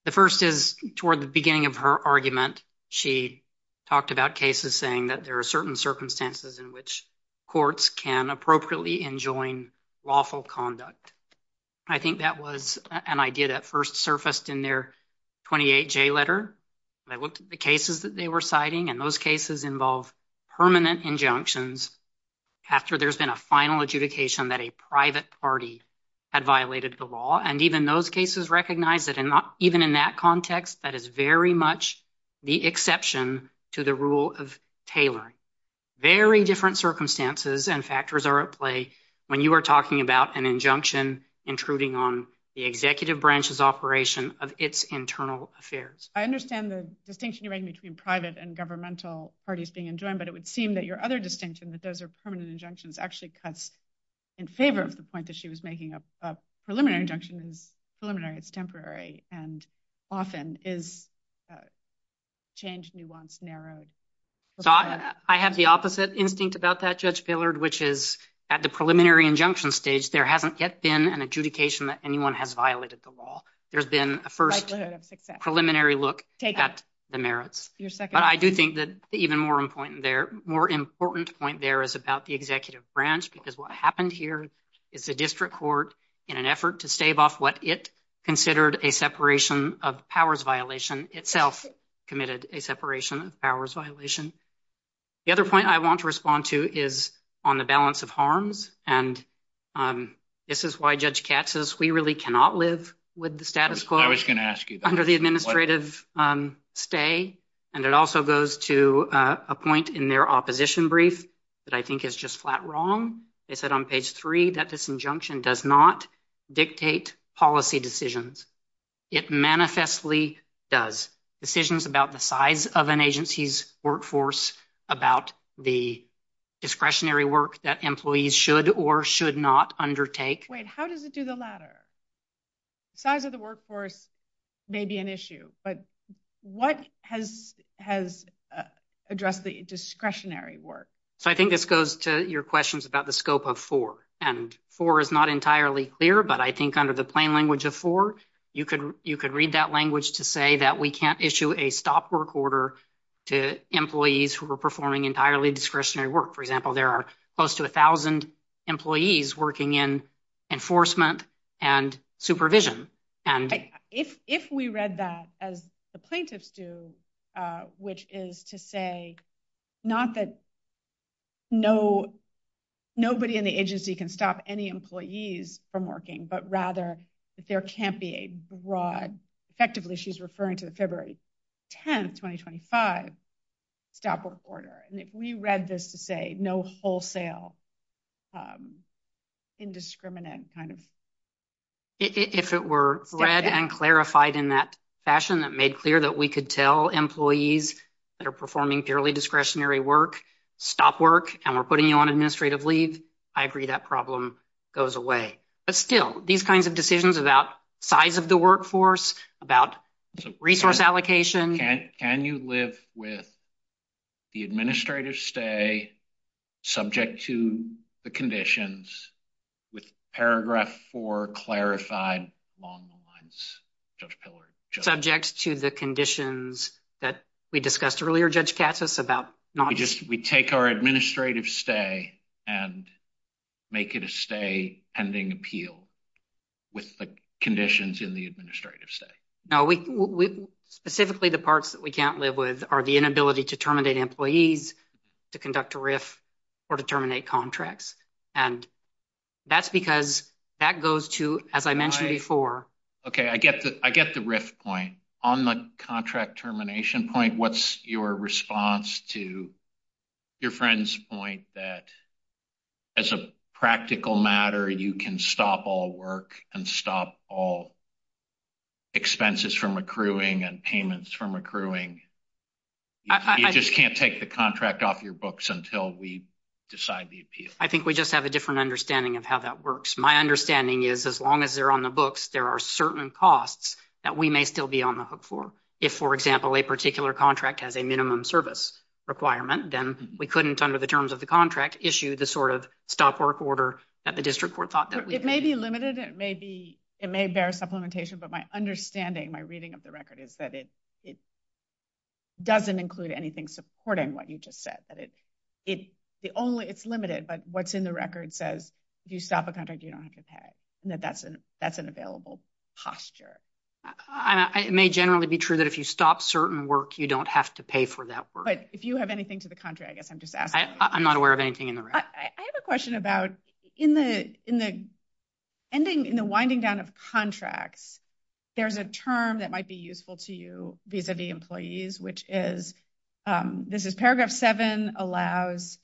The first is toward the beginning of her argument, she talked about cases saying that there are certain circumstances in which courts can appropriately enjoin lawful conduct. I think that was an idea that first surfaced in their 28J letter. And I looked at the cases that they were citing and those cases involve permanent injunctions after there's been a final adjudication that a private party had violated the law. And even those cases recognized that even in that context, that is very much the exception to the rule of Taylor. Very different circumstances and factors are at play when you are talking about an injunction intruding on the executive branch's operation of its internal affairs. I understand the distinction you're making between private and governmental parties being enjoined, but it would seem that your other distinction that those are permanent injunctions actually cuts in favor of the point that she was making up a preliminary injunction and preliminary it's temporary and often is changed, nuanced, narrowed. I have the opposite instinct about that, Judge Billard, which is at the preliminary injunction stage, there hasn't yet been an adjudication that anyone has violated the law. There's been a first preliminary look at the merits. But I do think that even more important point there is about the executive branch, because what happened here is the district court in an effort to stave off what it considered a separation of powers violation, itself committed a separation of powers violation. The other point I want to respond to is on the balance of harms. And this is why Judge Katz says we really cannot live with the status quo under the administrative stay. And it also goes to a point in their opposition brief that I think is just flat wrong. They said on page three that this injunction does not dictate policy decisions. It manifestly does. Decisions about the size of an agency's workforce, about the discretionary work that employees should or should not undertake. Wait, how does it do the latter? Size of the workforce may be an issue, but what has addressed the discretionary work? I think this goes to your questions about the scope of four. And four is not entirely clear, but I think under the plain language of four, you could read that language to say that we can't issue a stop work order to employees who are performing entirely discretionary work. For example, there are close to 1,000 employees working in enforcement and supervision. If we read that as the plaintiffs do, which is to say not that nobody in the agency can stop any employees from working, but rather that there can't be a broad, effectively she's referring to the February 10th, 2025, stop work order. And if we read this to say no wholesale indiscriminate kind of. If it were read and clarified in that fashion that made clear that we could tell employees that are performing purely discretionary work, stop work, and we're putting you on administrative leave, I agree that problem goes away. But still, these kinds of decisions about size of the workforce, about resource allocation. Can you live with the administrative stay subject to the conditions with paragraph four clarified along the lines? Judge Pillard. Subject to the conditions that we discussed earlier, Judge Katsas, about not. We take our administrative stay and make it a stay pending appeal with the conditions in the administrative stay. No, specifically the parts that we can't live with are the inability to terminate employees, to conduct a RIF, or to terminate contracts. And that's because that goes to, as I mentioned before. Okay, I get the RIF point. On the contract termination point, what's your response to your friend's point that as a practical matter, you can stop all work and stop all expenses from accruing and payments from accruing. You just can't take the contract off your books until we decide the appeal. I think we just have a different understanding of how that works. My understanding is as long as they're on the books, there are certain costs that we may still be on the hook for. If, for example, a particular contract has a minimum service requirement, then we couldn't under the terms of the contract issue the sort of stop work order that the district court thought that- It may be limited. It may be, it may bear supplementation, but my understanding, my reading of the record is that it doesn't include anything supporting what you just said. That it's the only, it's limited, but what's in the record says, if you stop a contract, you don't have to pay. That that's an available posture. And it may generally be true that if you stop certain work, you don't have to pay for that work. But if you have anything to the contrary, I guess I'm just asking. I'm not aware of anything in the record. I have a question about in the winding down of contracts, there's a term that might be useful to you vis-a-vis employees, which is, this is paragraph seven, allows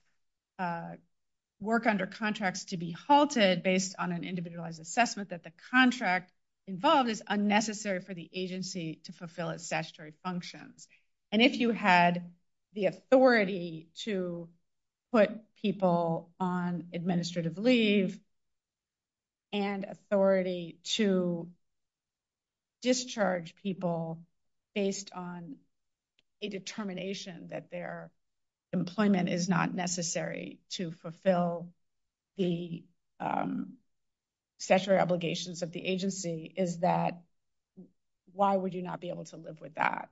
work under contracts to be halted based on an individualized assessment that the contract involved is unnecessary for the agency to fulfill its statutory function. And if you had the authority to put people on administrative leave and authority to discharge people based on a determination that their employment is not necessary to fulfill the statutory obligations of the agency, is that why would you not be able to live with that?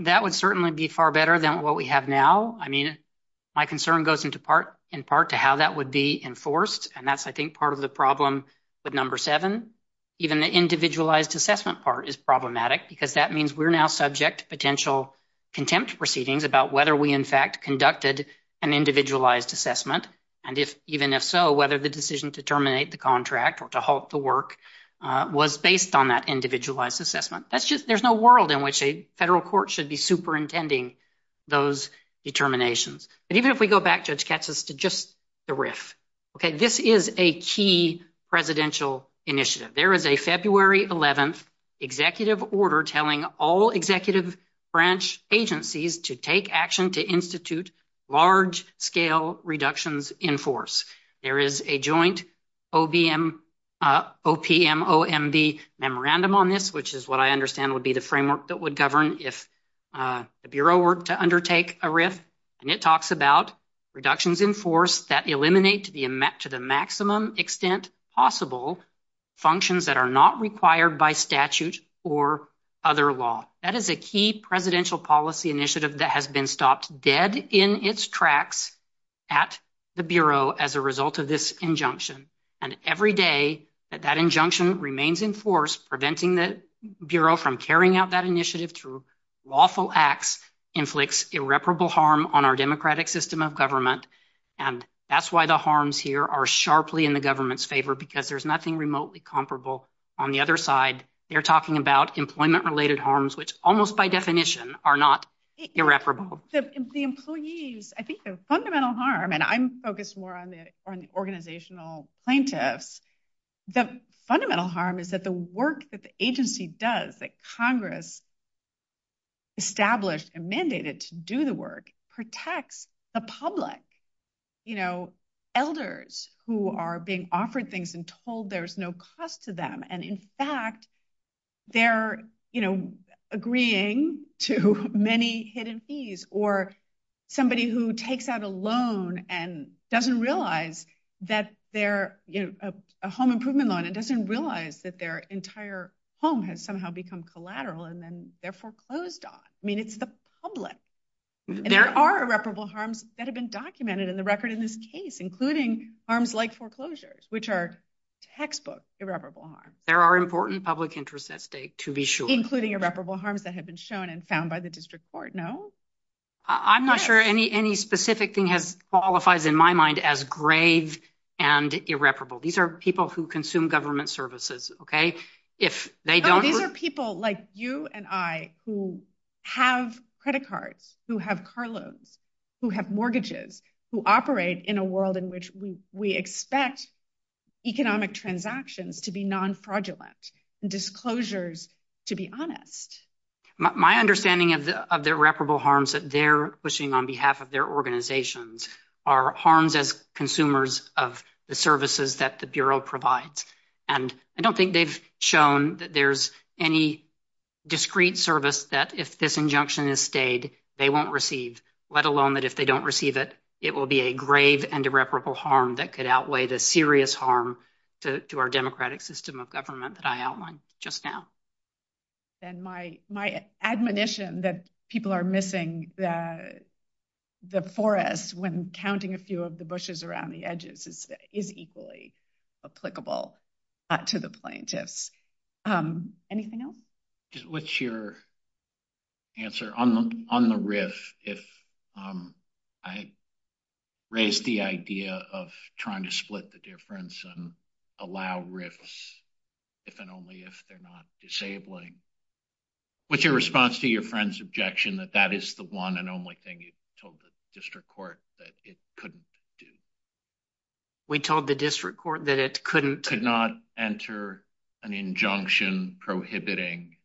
That would certainly be far better than what we have now. I mean, my concern goes into part in part to how that would be enforced. And that's, I think, part of the problem with number seven. Even the individualized assessment part is problematic because that means we're now subject to potential contempt proceedings about whether we in fact conducted an individualized assessment. And if even if so, whether the decision to terminate the contract or to halt the work was based on that individualized assessment. That's just, there's no world in which a federal court should be superintending those determinations. But even if we go back, Judge Katz, as to just the RIF. Okay, this is a key presidential initiative. There is a February 11th executive order telling all executive branch agencies to take action to institute large scale reductions in force. There is a joint OPMOMB memorandum on this, which is what I understand would be the framework that would govern if the Bureau were to undertake a RIF. And it talks about reductions in force that eliminate to the maximum extent possible functions that are not required by statute or other law. That is a key presidential policy initiative that has been stopped dead in its tracks at the Bureau as a result of this injunction. And every day that that injunction remains in force, preventing the Bureau from carrying out that initiative through lawful acts, inflicts irreparable harm on our democratic system of government. And that's why the harms here are sharply in the government's favor, because there's nothing remotely comparable. On the other side, they're talking about employment related harms, which almost by definition are not irreparable. So the employees, I think the fundamental harm, and I'm focused more on the organizational plaintiffs. The fundamental harm is that the work that the agency does, that Congress established and mandated to do the work, protects the public, elders who are being offered things and told there's no cost to them. And in fact, they're agreeing to many hidden fees or somebody who takes out a loan and doesn't realize that they're a home improvement loan and doesn't realize that their entire home has somehow become collateral and then they're foreclosed on. I mean, it's the public. There are irreparable harms that have been documented in the record in this case, including harms like foreclosures, which are textbook irreparable harms. There are important public interests at stake to be sure. Including irreparable harms that have been shown and found by the district court, no? I'm not sure any specific thing has qualified in my mind as grave and irreparable. These are people who consume government services, okay? These are people like you and I who have credit cards, who have car loans, who have mortgages, who operate in a world in which we expect economic transactions to be non-fraudulent and disclosures to be honest. My understanding of the irreparable harms that they're pushing on behalf of their organizations are harms as consumers of the services that the Bureau provides. And I don't think they've shown that there's any discrete service that if this injunction is stayed, they won't receive, let alone that if they don't receive it, it will be a grave and irreparable harm that could outweigh the serious harm to our democratic system of government that I outlined just now. And my admonition that people are missing the forest when counting a few of the bushes around the edges is equally applicable to the plaintiffs. Anything else? What's your answer? On the riff, if I raised the idea of trying to split the difference and allow riffs if and only if they're not disabling, what's your response to your friend's objection that that is the one and only thing you told the district court that it couldn't do? We told the district court that it couldn't- Could not enter an injunction prohibiting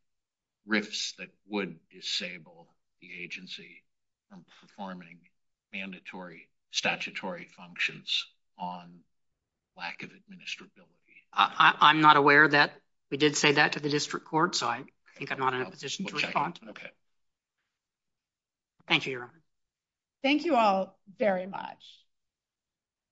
riffs that would disable the agency from performing mandatory statutory functions on lack of administrability. I'm not aware that we did say that to the district court, so I think I'm not in a position to respond. Thank you, Your Honor. Thank you all very much.